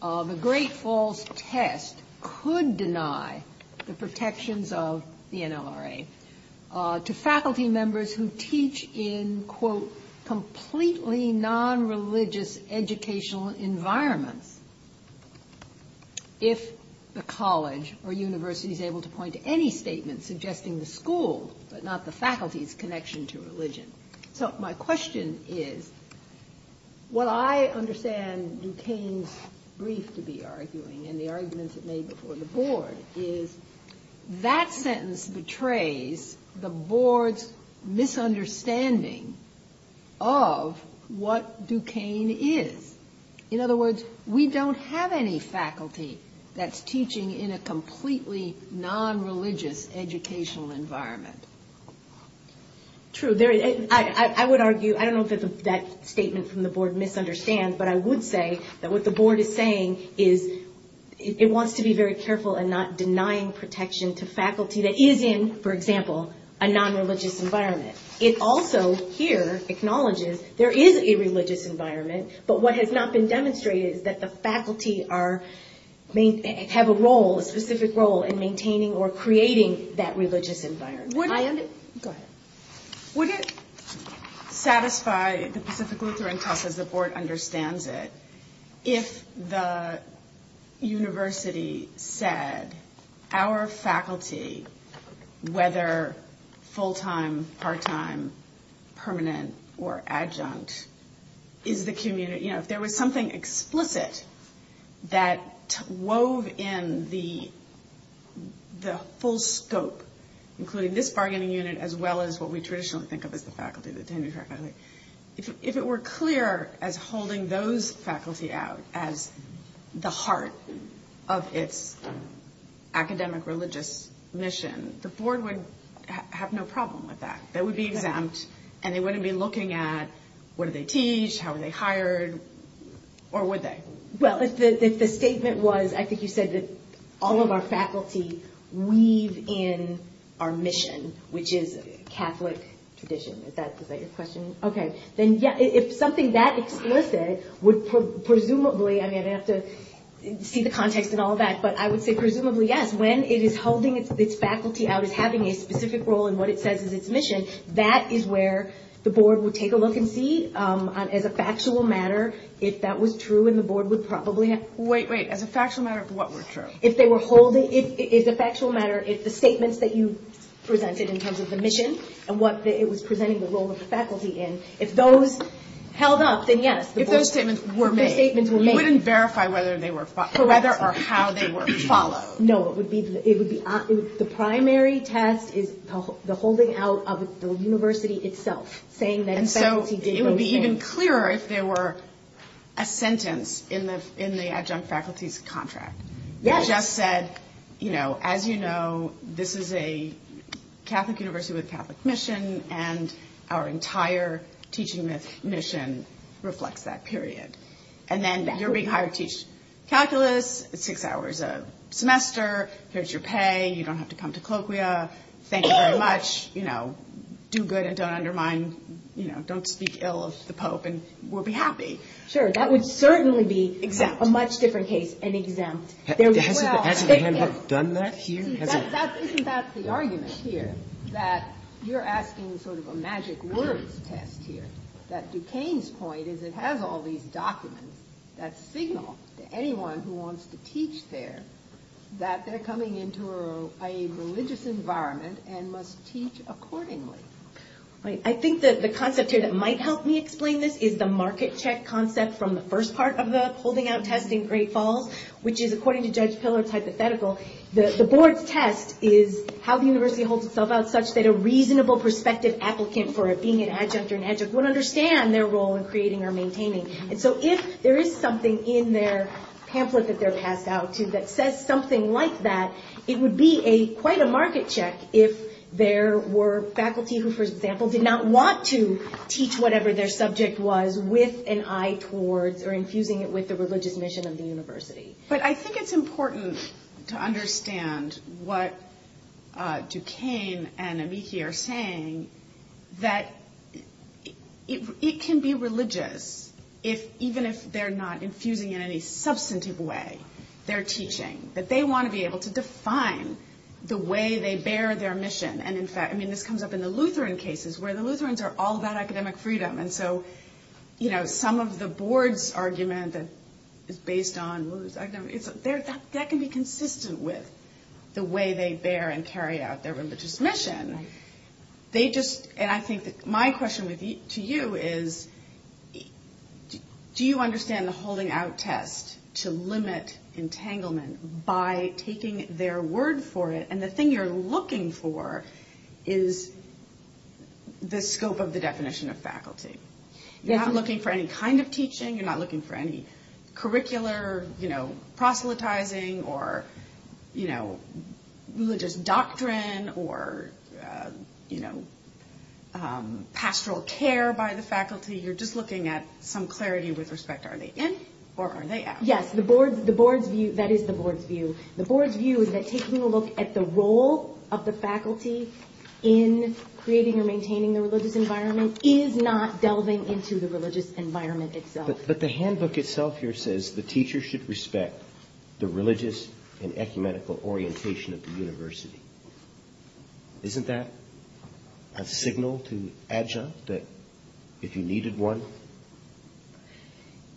the Great Falls test could deny the protections of the NLRA to faculty members who teach in, quote, completely non-religious educational environments if the college or university is able to point to any statement suggesting the school, but not the faculty's connection to religion. So, my question is, what I understand Duquesne's brief to be arguing and the arguments it made before the board is, that sentence betrays the board's misunderstanding of what Duquesne is. In other words, we don't have any faculty that's teaching in a completely non-religious educational environment. True. I would argue, I don't know if that statement from the board misunderstands, but I would say that what the board is saying is, it wants to be very careful in not denying protection to faculty that is in, for example, a non-religious environment. It also, here, acknowledges there is a religious environment, but what has not been demonstrated is that the faculty have a role, a specific role in maintaining or creating that religious environment. Go ahead. Would it satisfy the specific Lutheran cause, as the board understands it, if the university said, our faculty, whether full-time, part-time, permanent, or adjunct, if there was something explicit that wove in the full scope, including this bargaining unit as well as what we traditionally think of as the faculty, the tenured faculty, if it were clear as holding those faculty out as the heart of its academic religious mission, the board would have no problem with that. And they wouldn't be looking at what do they teach, how are they hired, or would they? Well, if the statement was, I think you said, that all of our faculty weave in our mission, which is Catholic tradition. Is that your question? Okay. Then, yes, if something that explicit would presumably, I mean, I'd have to see the context and all that, but I would say presumably, yes, and when it is holding its faculty out as having a specific role in what it says in its mission, that is where the board would take a look and see, as a factual matter, if that was true and the board would probably have- Wait, wait. As a factual matter, what was true? If they were holding, as a factual matter, if the statements that you presented in terms of the mission and what it was presenting the role of the faculty in, if those held up, then yes. If those statements were made. If the statements were made. You wouldn't verify whether or how they were followed. No, it would be, the primary task is the holding out of the university itself. Saying that faculty- And so, it would be even clearer if there were a sentence in the adjunct faculty's contract. Yes. Just said, you know, as you know, this is a Catholic university with a Catholic mission and our entire teaching mission reflects that period. And then, you're being hired to teach calculus, six hours a semester, here's your pay, you don't have to come to colloquia, thank you very much, you know, do good and don't undermine, you know, don't speak ill of the Pope and we'll be happy. Sure, that would certainly be a much different case and exempt. Has the executive done that here? Isn't that the argument here? That you're asking sort of a magic word test here. That Duquesne's point is it has all these documents that signal to anyone who wants to teach there that they're coming into a religious environment and must teach accordingly. Right, I think that the concept here that might help me explain this is the market check concept from the first part of the holding out test in Great Falls, which is according to Judge Piller's hypothetical, the board test is how the university holds itself out such that a reasonable perspective applicant for being an adjunct or an adjunct would understand their role in creating or maintaining. And so, if there is something in their pamphlet that they're passed out to that says something like that, it would be quite a market check if there were faculty who, for example, did not want to teach whatever their subject was with an eye towards or infusing it with the religious mission of the university. But I think it's important to understand what Duquesne and Amiki are saying that it can be religious even if they're not infusing in any substantive way their teaching. But they want to be able to define the way they bear their mission. And in fact, I mean, this comes up in the Lutheran cases where the Lutherans are all about academic freedom. And so, you know, some of the board's argument that is based on that can be consistent with the way they bear and carry out their religious mission. They just, and I think my question to you is, do you understand the holding out test to limit entanglement by taking their word for it? And the thing you're looking for is the scope of the definition of faculty. You're not looking for any kind of teaching. You're not looking for any curricular, you know, proselytizing or, you know, religious doctrine or, you know, pastoral care by the faculty. You're just looking at some clarity with respect to are they in or are they out? Yes, the board's view, that is the board's view. The board's view is that taking a look at the role of the faculty in creating or maintaining the religious environment is not delving into the religious environment itself. But the handbook itself here says the teacher should respect the religious and ecumenical orientation of the university. Isn't that a signal to adjuncts that if you needed one?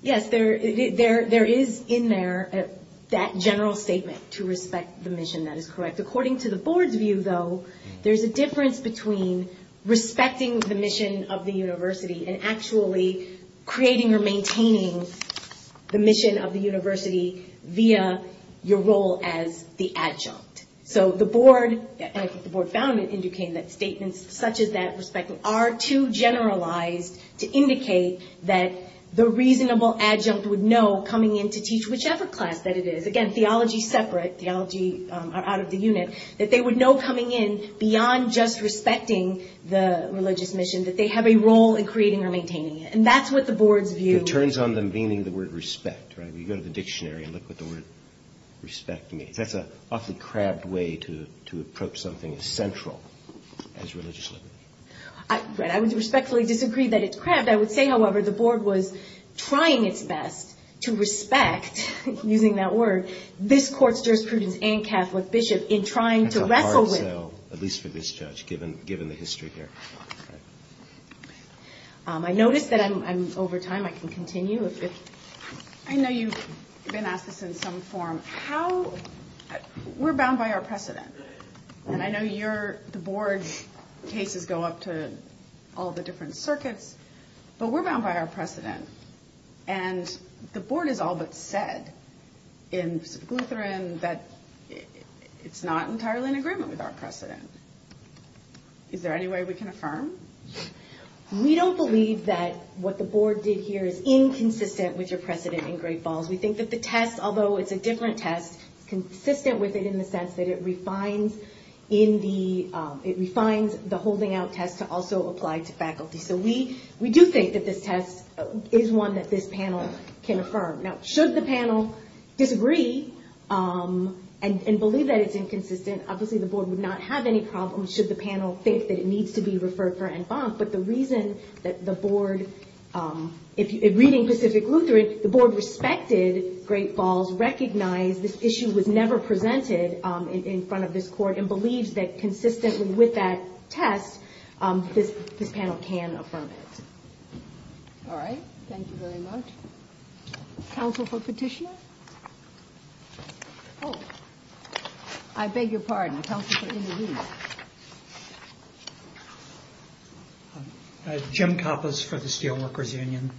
Yes, there is in there that general statement to respect the mission. That is correct. According to the board's view, though, there's a difference between respecting the mission of the university and actually creating or maintaining the mission of the university via your role as the adjunct. So the board, and I think the board found it, indicating that statements such as that respecting are too generalized to indicate that the reasonable adjunct would know coming in to teach whichever class that it is. Again, theology separate, theology out of the unit, that they would know coming in beyond just respecting the religious mission, that they have a role in creating or maintaining it. And that's what the board's view. It turns on them meaning the word respect, right? We go to the dictionary and look what the word respect means. That's an often crabbed way to approach something central as religious. I would respectfully disagree that it's crabbed. I would say, however, the board was trying its best to respect, using that word, this court's jurisprudence and Catholic bishops in trying to wrestle with. At least for this judge, given the history here. I notice that I'm over time. I can continue if it's. I know you've been asked this in some form. We're bound by our precedent. I know the board cases go up to all the different circuits, but we're bound by our precedent. And the board has all but said in St. Lutheran that it's not entirely in agreement with our precedent. Is there any way we can affirm? We don't believe that what the board did here is inconsistent with your precedent in Great Falls. We think that the test, although it's a different test, consistent with it in the sense that it refines in the, it refines the holding out test to also apply to faculty. So, we do think that this test is one that this panel can affirm. Now, should the panel disagree and believe that it's inconsistent, obviously the board would not have any problems should the panel think that it needs to be referred for en banc. But the reason that the board, in reading Pacific Lutheran, the board respected Great Falls, recognized this issue was never presented in front of this court, and believes that consistently with that test, this panel can affirm it. All right. Thank you very much. Counsel for Petitioner? Oh. I beg your pardon. Counsel for individual? Jim Kappos for the Steelworkers Union.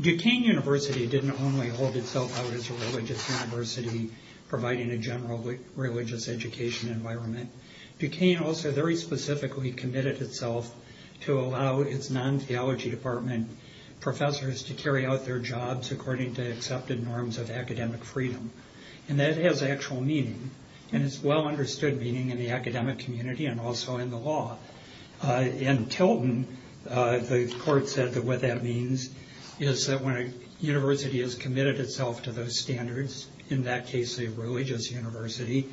Duquesne University didn't only hold itself out as a religious university, providing a general religious education environment. Duquesne also very specifically committed itself to allow its non-theology department professors to carry out their jobs according to accepted norms of academic freedom. And that has actual meaning. And it's well understood meaning in the academic community and also in the law. In Tilton, the court said that what that means is that when a university has committed itself to those standards, in that case a religious university,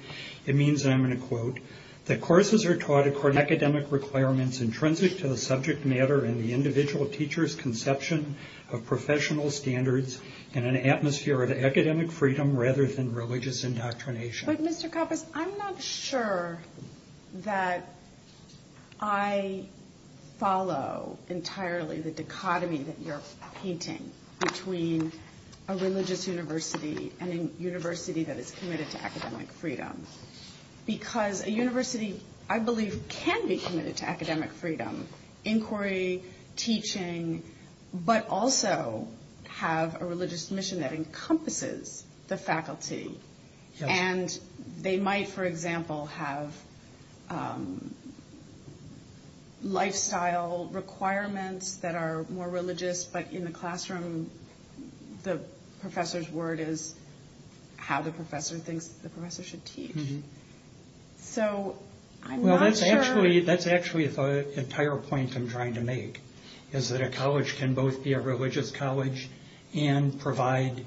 it means, and I'm going to quote, that courses are taught according to academic requirements intrinsic to the subject matter and the individual teacher's conception of professional standards and an atmosphere of academic freedom rather than religious indoctrination. But, Mr. Kappos, I'm not sure that I follow entirely the dichotomy that you're painting between a religious university and a university that is committed to academic freedom. Because a university, I believe, can be committed to academic freedom, inquiry, teaching, but also have a religious mission that encompasses the faculty. And they might, for example, have lifestyle requirements that are more religious, but in the classroom the professor's word is how the professor thinks the professor should teach. So I'm not sure. Well, that's actually the entire point I'm trying to make, is that a college can both be a religious college and provide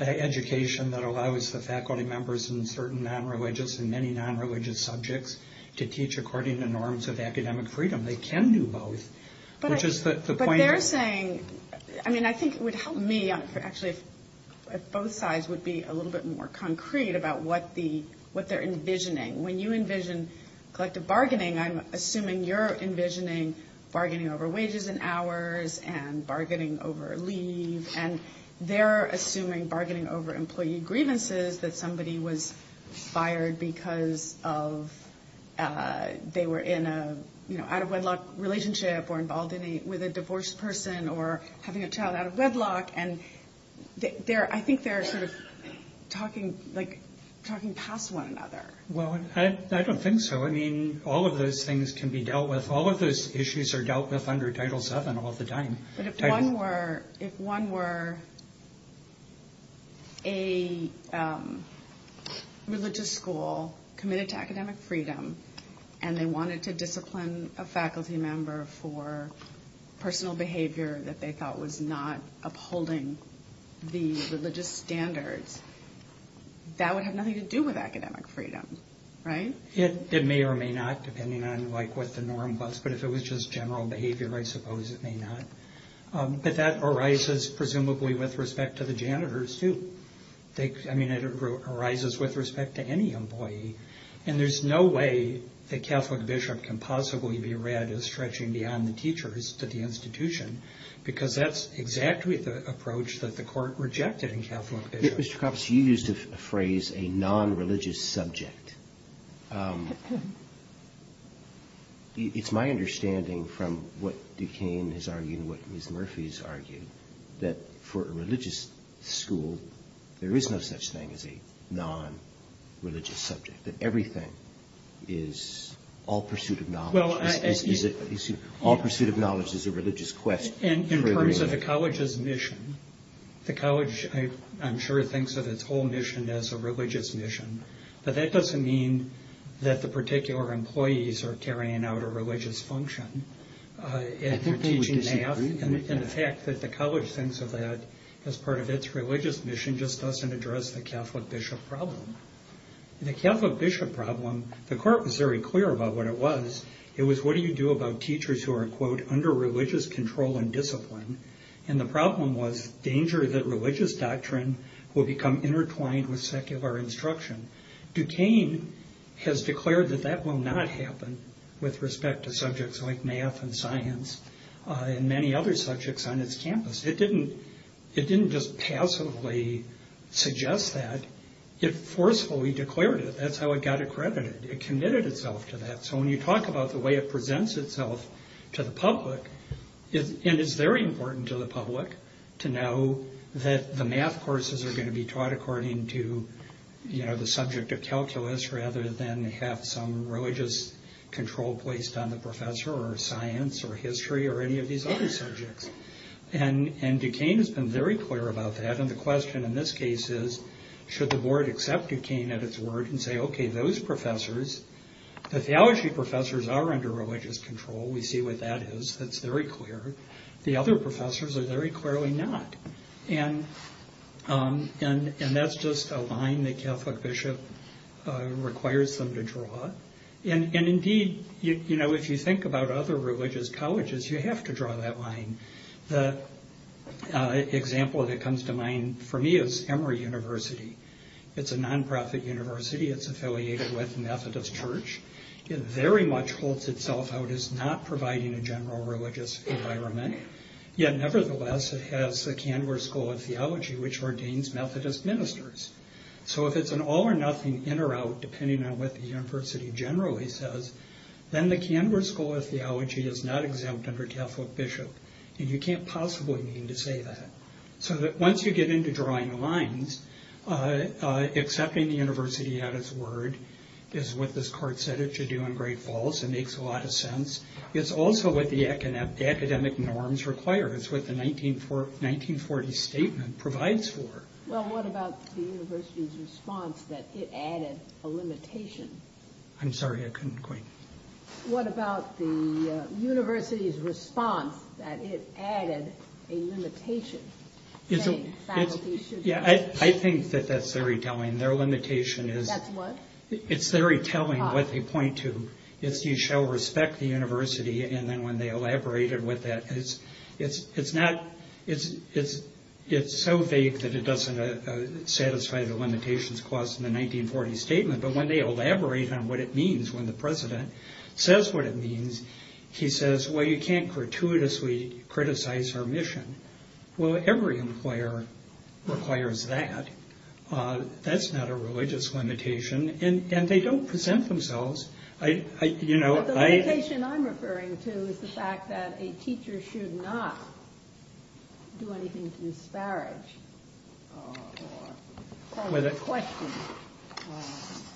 an education that allows the faculty members in certain nonreligious and many nonreligious subjects to teach according to norms of academic freedom. They can do both. But they're saying, I mean, I think it would help me, actually, if both sides would be a little bit more concrete about what they're envisioning. When you envision collective bargaining, I'm assuming you're envisioning bargaining over wages and hours and bargaining over leave, and they're assuming bargaining over employee grievances that somebody was fired because they were in an out-of-wedlock relationship or involved with a divorced person or having a child out of wedlock. And I think they're sort of talking past one another. Well, I don't think so. I mean, all of those things can be dealt with. All of those issues are dealt with under Title VII all the time. If one were a religious school committed to academic freedom and they wanted to discipline a faculty member for personal behavior that they thought was not upholding the religious standards, that would have nothing to do with academic freedom, right? It may or may not, depending on, like, what the norm was. But if it was just general behavior, I suppose it may not. But that arises, presumably, with respect to the janitors, too. I mean, it arises with respect to any employee. And there's no way that Catholic bishop can possibly be read as stretching beyond the teachers to the institution because that's exactly the approach that the court rejected in Catholic bishop. Mr. Coppes, you used a phrase, a non-religious subject. It's my understanding from what Duquesne has argued, what Ms. Murphy has argued, that for a religious school, there is no such thing as a non-religious subject. That everything is all pursuit of knowledge. All pursuit of knowledge is a religious quest. In terms of the college's mission, the college, I'm sure, thinks of its whole mission as a religious mission. But that doesn't mean that the particular employees are carrying out a religious function. And the fact that the college thinks of that as part of its religious mission just doesn't address the Catholic bishop problem. In the Catholic bishop problem, the court was very clear about what it was. It was, what do you do about teachers who are, quote, under religious control and discipline? And the problem was danger that religious doctrine will become intertwined with secular instruction. Duquesne has declared that that will not happen with respect to subjects like math and science and many other subjects on its campus. It didn't just passively suggest that. It forcefully declared it. That's how it got accredited. It committed itself to that. So when you talk about the way it presents itself to the public, it is very important to the public to know that the math courses are going to be taught according to the subject of calculus rather than have some religious control placed on the professor or science or history or any of these other subjects. And Duquesne has been very clear about that. And the question in this case is, should the board accept Duquesne at its word and say, OK, those professors, the theology professors are under religious control. We see what that is. That's very clear. The other professors are very clearly not. And that's just a line the Catholic bishop requires them to draw. And indeed, you know, if you think about other religious colleges, you have to draw that line. The example that comes to mind for me is Emory University. It's a nonprofit university. It's affiliated with Methodist Church. It very much holds itself out as not providing a general religious environment. Yet, nevertheless, it has the Canberra School of Theology, which ordains Methodist ministers. So if it's an all or nothing, in or out, depending on what the university generally says, then the Canberra School of Theology is not exempt under Catholic bishop. And you can't possibly mean to say that. So once you get into drawing lines, accepting the university at its word is what this court said it should do. I'm very false. It makes a lot of sense. It's also what the academic norms require. It's what the 1940 statement provides for. Well, what about the university's response that it added a limitation? I'm sorry, I couldn't quite. What about the university's response that it added a limitation? Yeah, I think that that's very telling. Their limitation is. That's what? It's very telling what they point to. Yes, you shall respect the university. And then when they elaborated with that, it's so vague that it doesn't satisfy the limitations caused in the 1940 statement. But when they elaborate on what it means when the president says what it means, he says, well, you can't gratuitously criticize our mission. Well, every employer requires that. That's not a religious limitation. And they don't present themselves. But the limitation I'm referring to is the fact that a teacher should not do anything to disparage questions.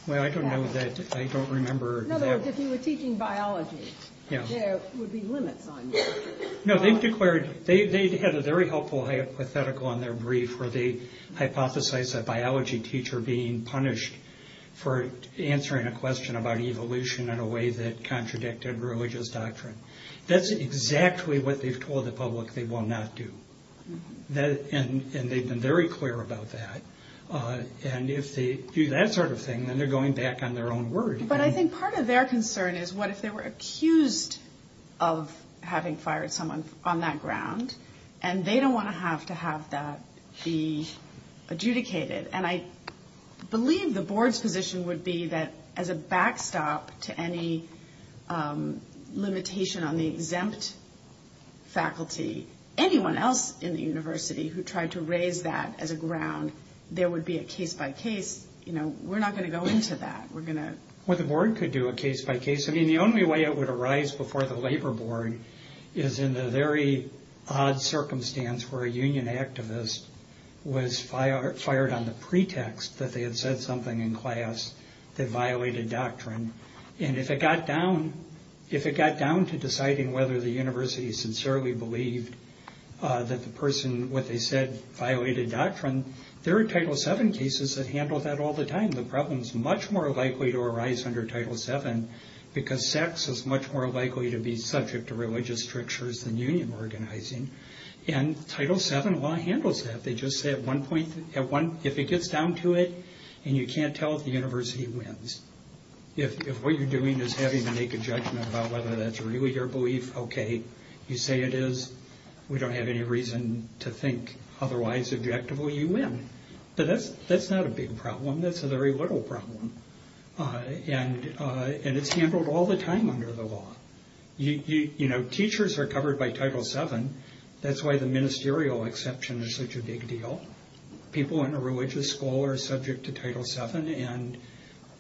Well, I don't know that. I don't remember. In other words, if he was teaching biology, there would be limits on that. No, they've declared. They had a very helpful hypothetical in their brief where they hypothesized a biology teacher being punished for answering a question about evolution in a way that contradicted religious doctrine. That's exactly what they've told the public they will not do. And they've been very clear about that. And if they do that sort of thing, then they're going back on their own word. But I think part of their concern is what if they were accused of having fired someone on that ground, and they don't want to have to have that be adjudicated. And I believe the board's position would be that as a backstop to any limitation on the exempt faculty, anyone else in the university who tried to raise that as a ground, there would be a case-by-case. You know, we're not going to go into that. We're going to... Well, the board could do a case-by-case. I mean, the only way it would arise before the labor board is in the very odd circumstance where a union activist was fired on the pretext that they had said something in class that violated doctrine. And if it got down to deciding whether the university sincerely believed that the person, what they said, violated doctrine, there are Title VII cases that handle that all the time. The problem is much more likely to arise under Title VII, because sex is much more likely to be subject to religious strictures than union organizing. And Title VII law handles that. They just say at one point, if it gets down to it and you can't tell, the university wins. If what you're doing is having to make a judgment about whether that's really your belief, okay, you say it is. We don't have any reason to think otherwise. Objectively, you win. But that's not a big problem. That's a very little problem. And it's handled all the time under the law. You know, teachers are covered by Title VII. That's why the ministerial exception is such a big deal. People in a religious school are subject to Title VII,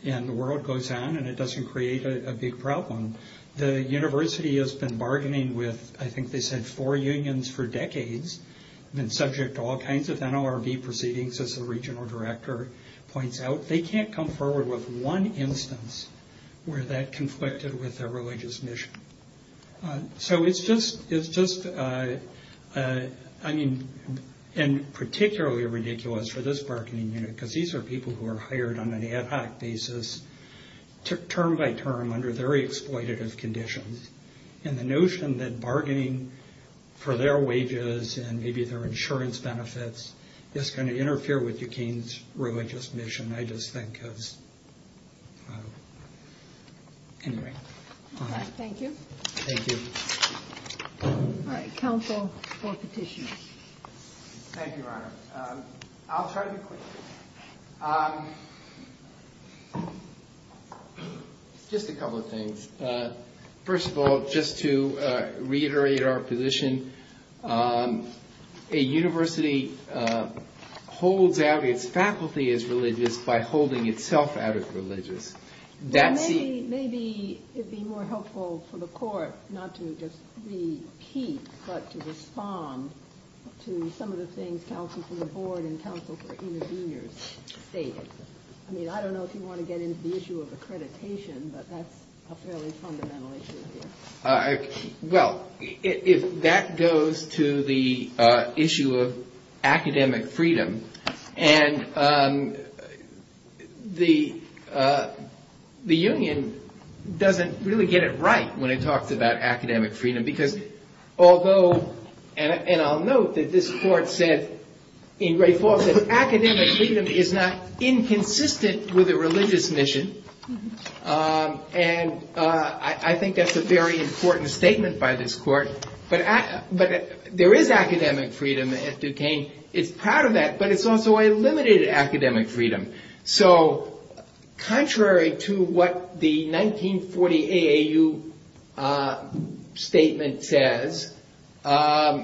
and the world goes on, and it doesn't create a big problem. The university has been bargaining with, I think they said, four unions for decades, and subject to all kinds of NLRB proceedings, as the regional director points out. They can't come forward with one instance where that conflicted with their religious mission. So it's just, I mean, and particularly ridiculous for this bargaining unit, because these are people who are hired on an ad hoc basis, term by term, under very exploitative conditions. And the notion that bargaining for their wages and maybe their insurance benefits is going to interfere with Duquesne's religious mission, I just think is, I don't know. Anyway, all right. Thank you. Thank you. All right, counsel for petition. Thank you, Your Honor. I'll try to be quick. Just a couple of things. First of all, just to reiterate our position, a university holds out its faculty as religious by holding itself out as religious. Maybe it would be more helpful for the court not to just repeat, but to respond to some of the things counsel for the board and counsel for interveners stated. I mean, I don't know if you want to get into the issue of accreditation, but that's a fairly fundamental issue. Well, if that goes to the issue of academic freedom, and the union doesn't really get it right when it talks about academic freedom, because although, and I'll note that this court said, in great force, that academic freedom is not inconsistent with a religious mission, and I think that's a very important statement by this court, but there is academic freedom at Duquesne. It's proud of that, but it's also a limited academic freedom. So, contrary to what the 1940 AAU statement says, there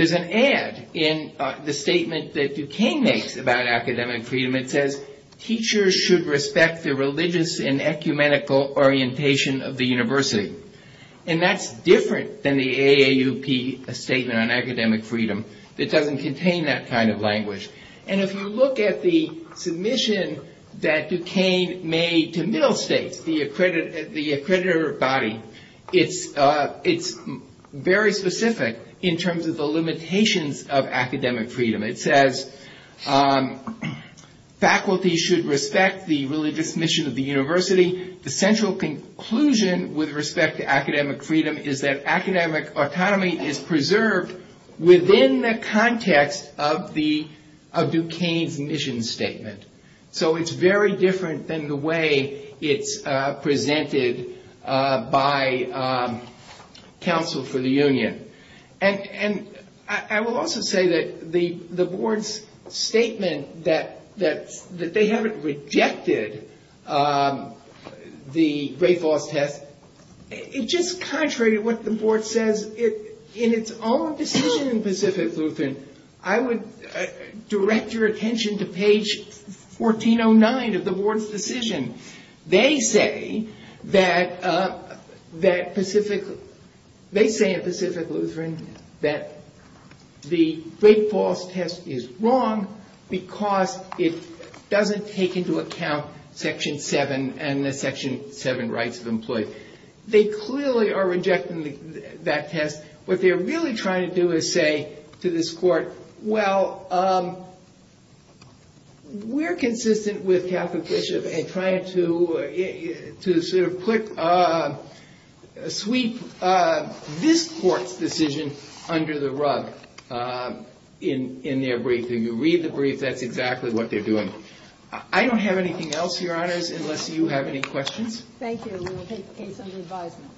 is an add in the statement that Duquesne makes about academic freedom. It says, teachers should respect the religious and ecumenical orientation of the university. And that's different than the AAUP statement on academic freedom. It doesn't contain that kind of language. And if you look at the submission that Duquesne made to Middlestate, the accreditor body, it's very specific in terms of the limitations of academic freedom. It says, faculty should respect the religious mission of the university. The central conclusion with respect to academic freedom is that academic autonomy is preserved within the context of Duquesne's mission statement. So, it's very different than the way it's presented by counsel for the union. And I will also say that the board's statement that they haven't rejected the Rape Law Test, it's just contrary to what the board says in its own decision in Pacific Lupin. I would direct your attention to page 1409 of the board's decision. They say that Pacific Lutheran, that the Rape Law Test is wrong because it doesn't take into account Section 7 and the Section 7 rights of employees. They clearly are rejecting that test. What they're really trying to do is say to this court, well, we're consistent with Catherine Bishop in trying to sweep this court's decision under the rug in their brief. If you read the brief, that's exactly what they're doing. I don't have anything else, Your Honors, unless you have any questions. Thank you. We will take the case under advisement.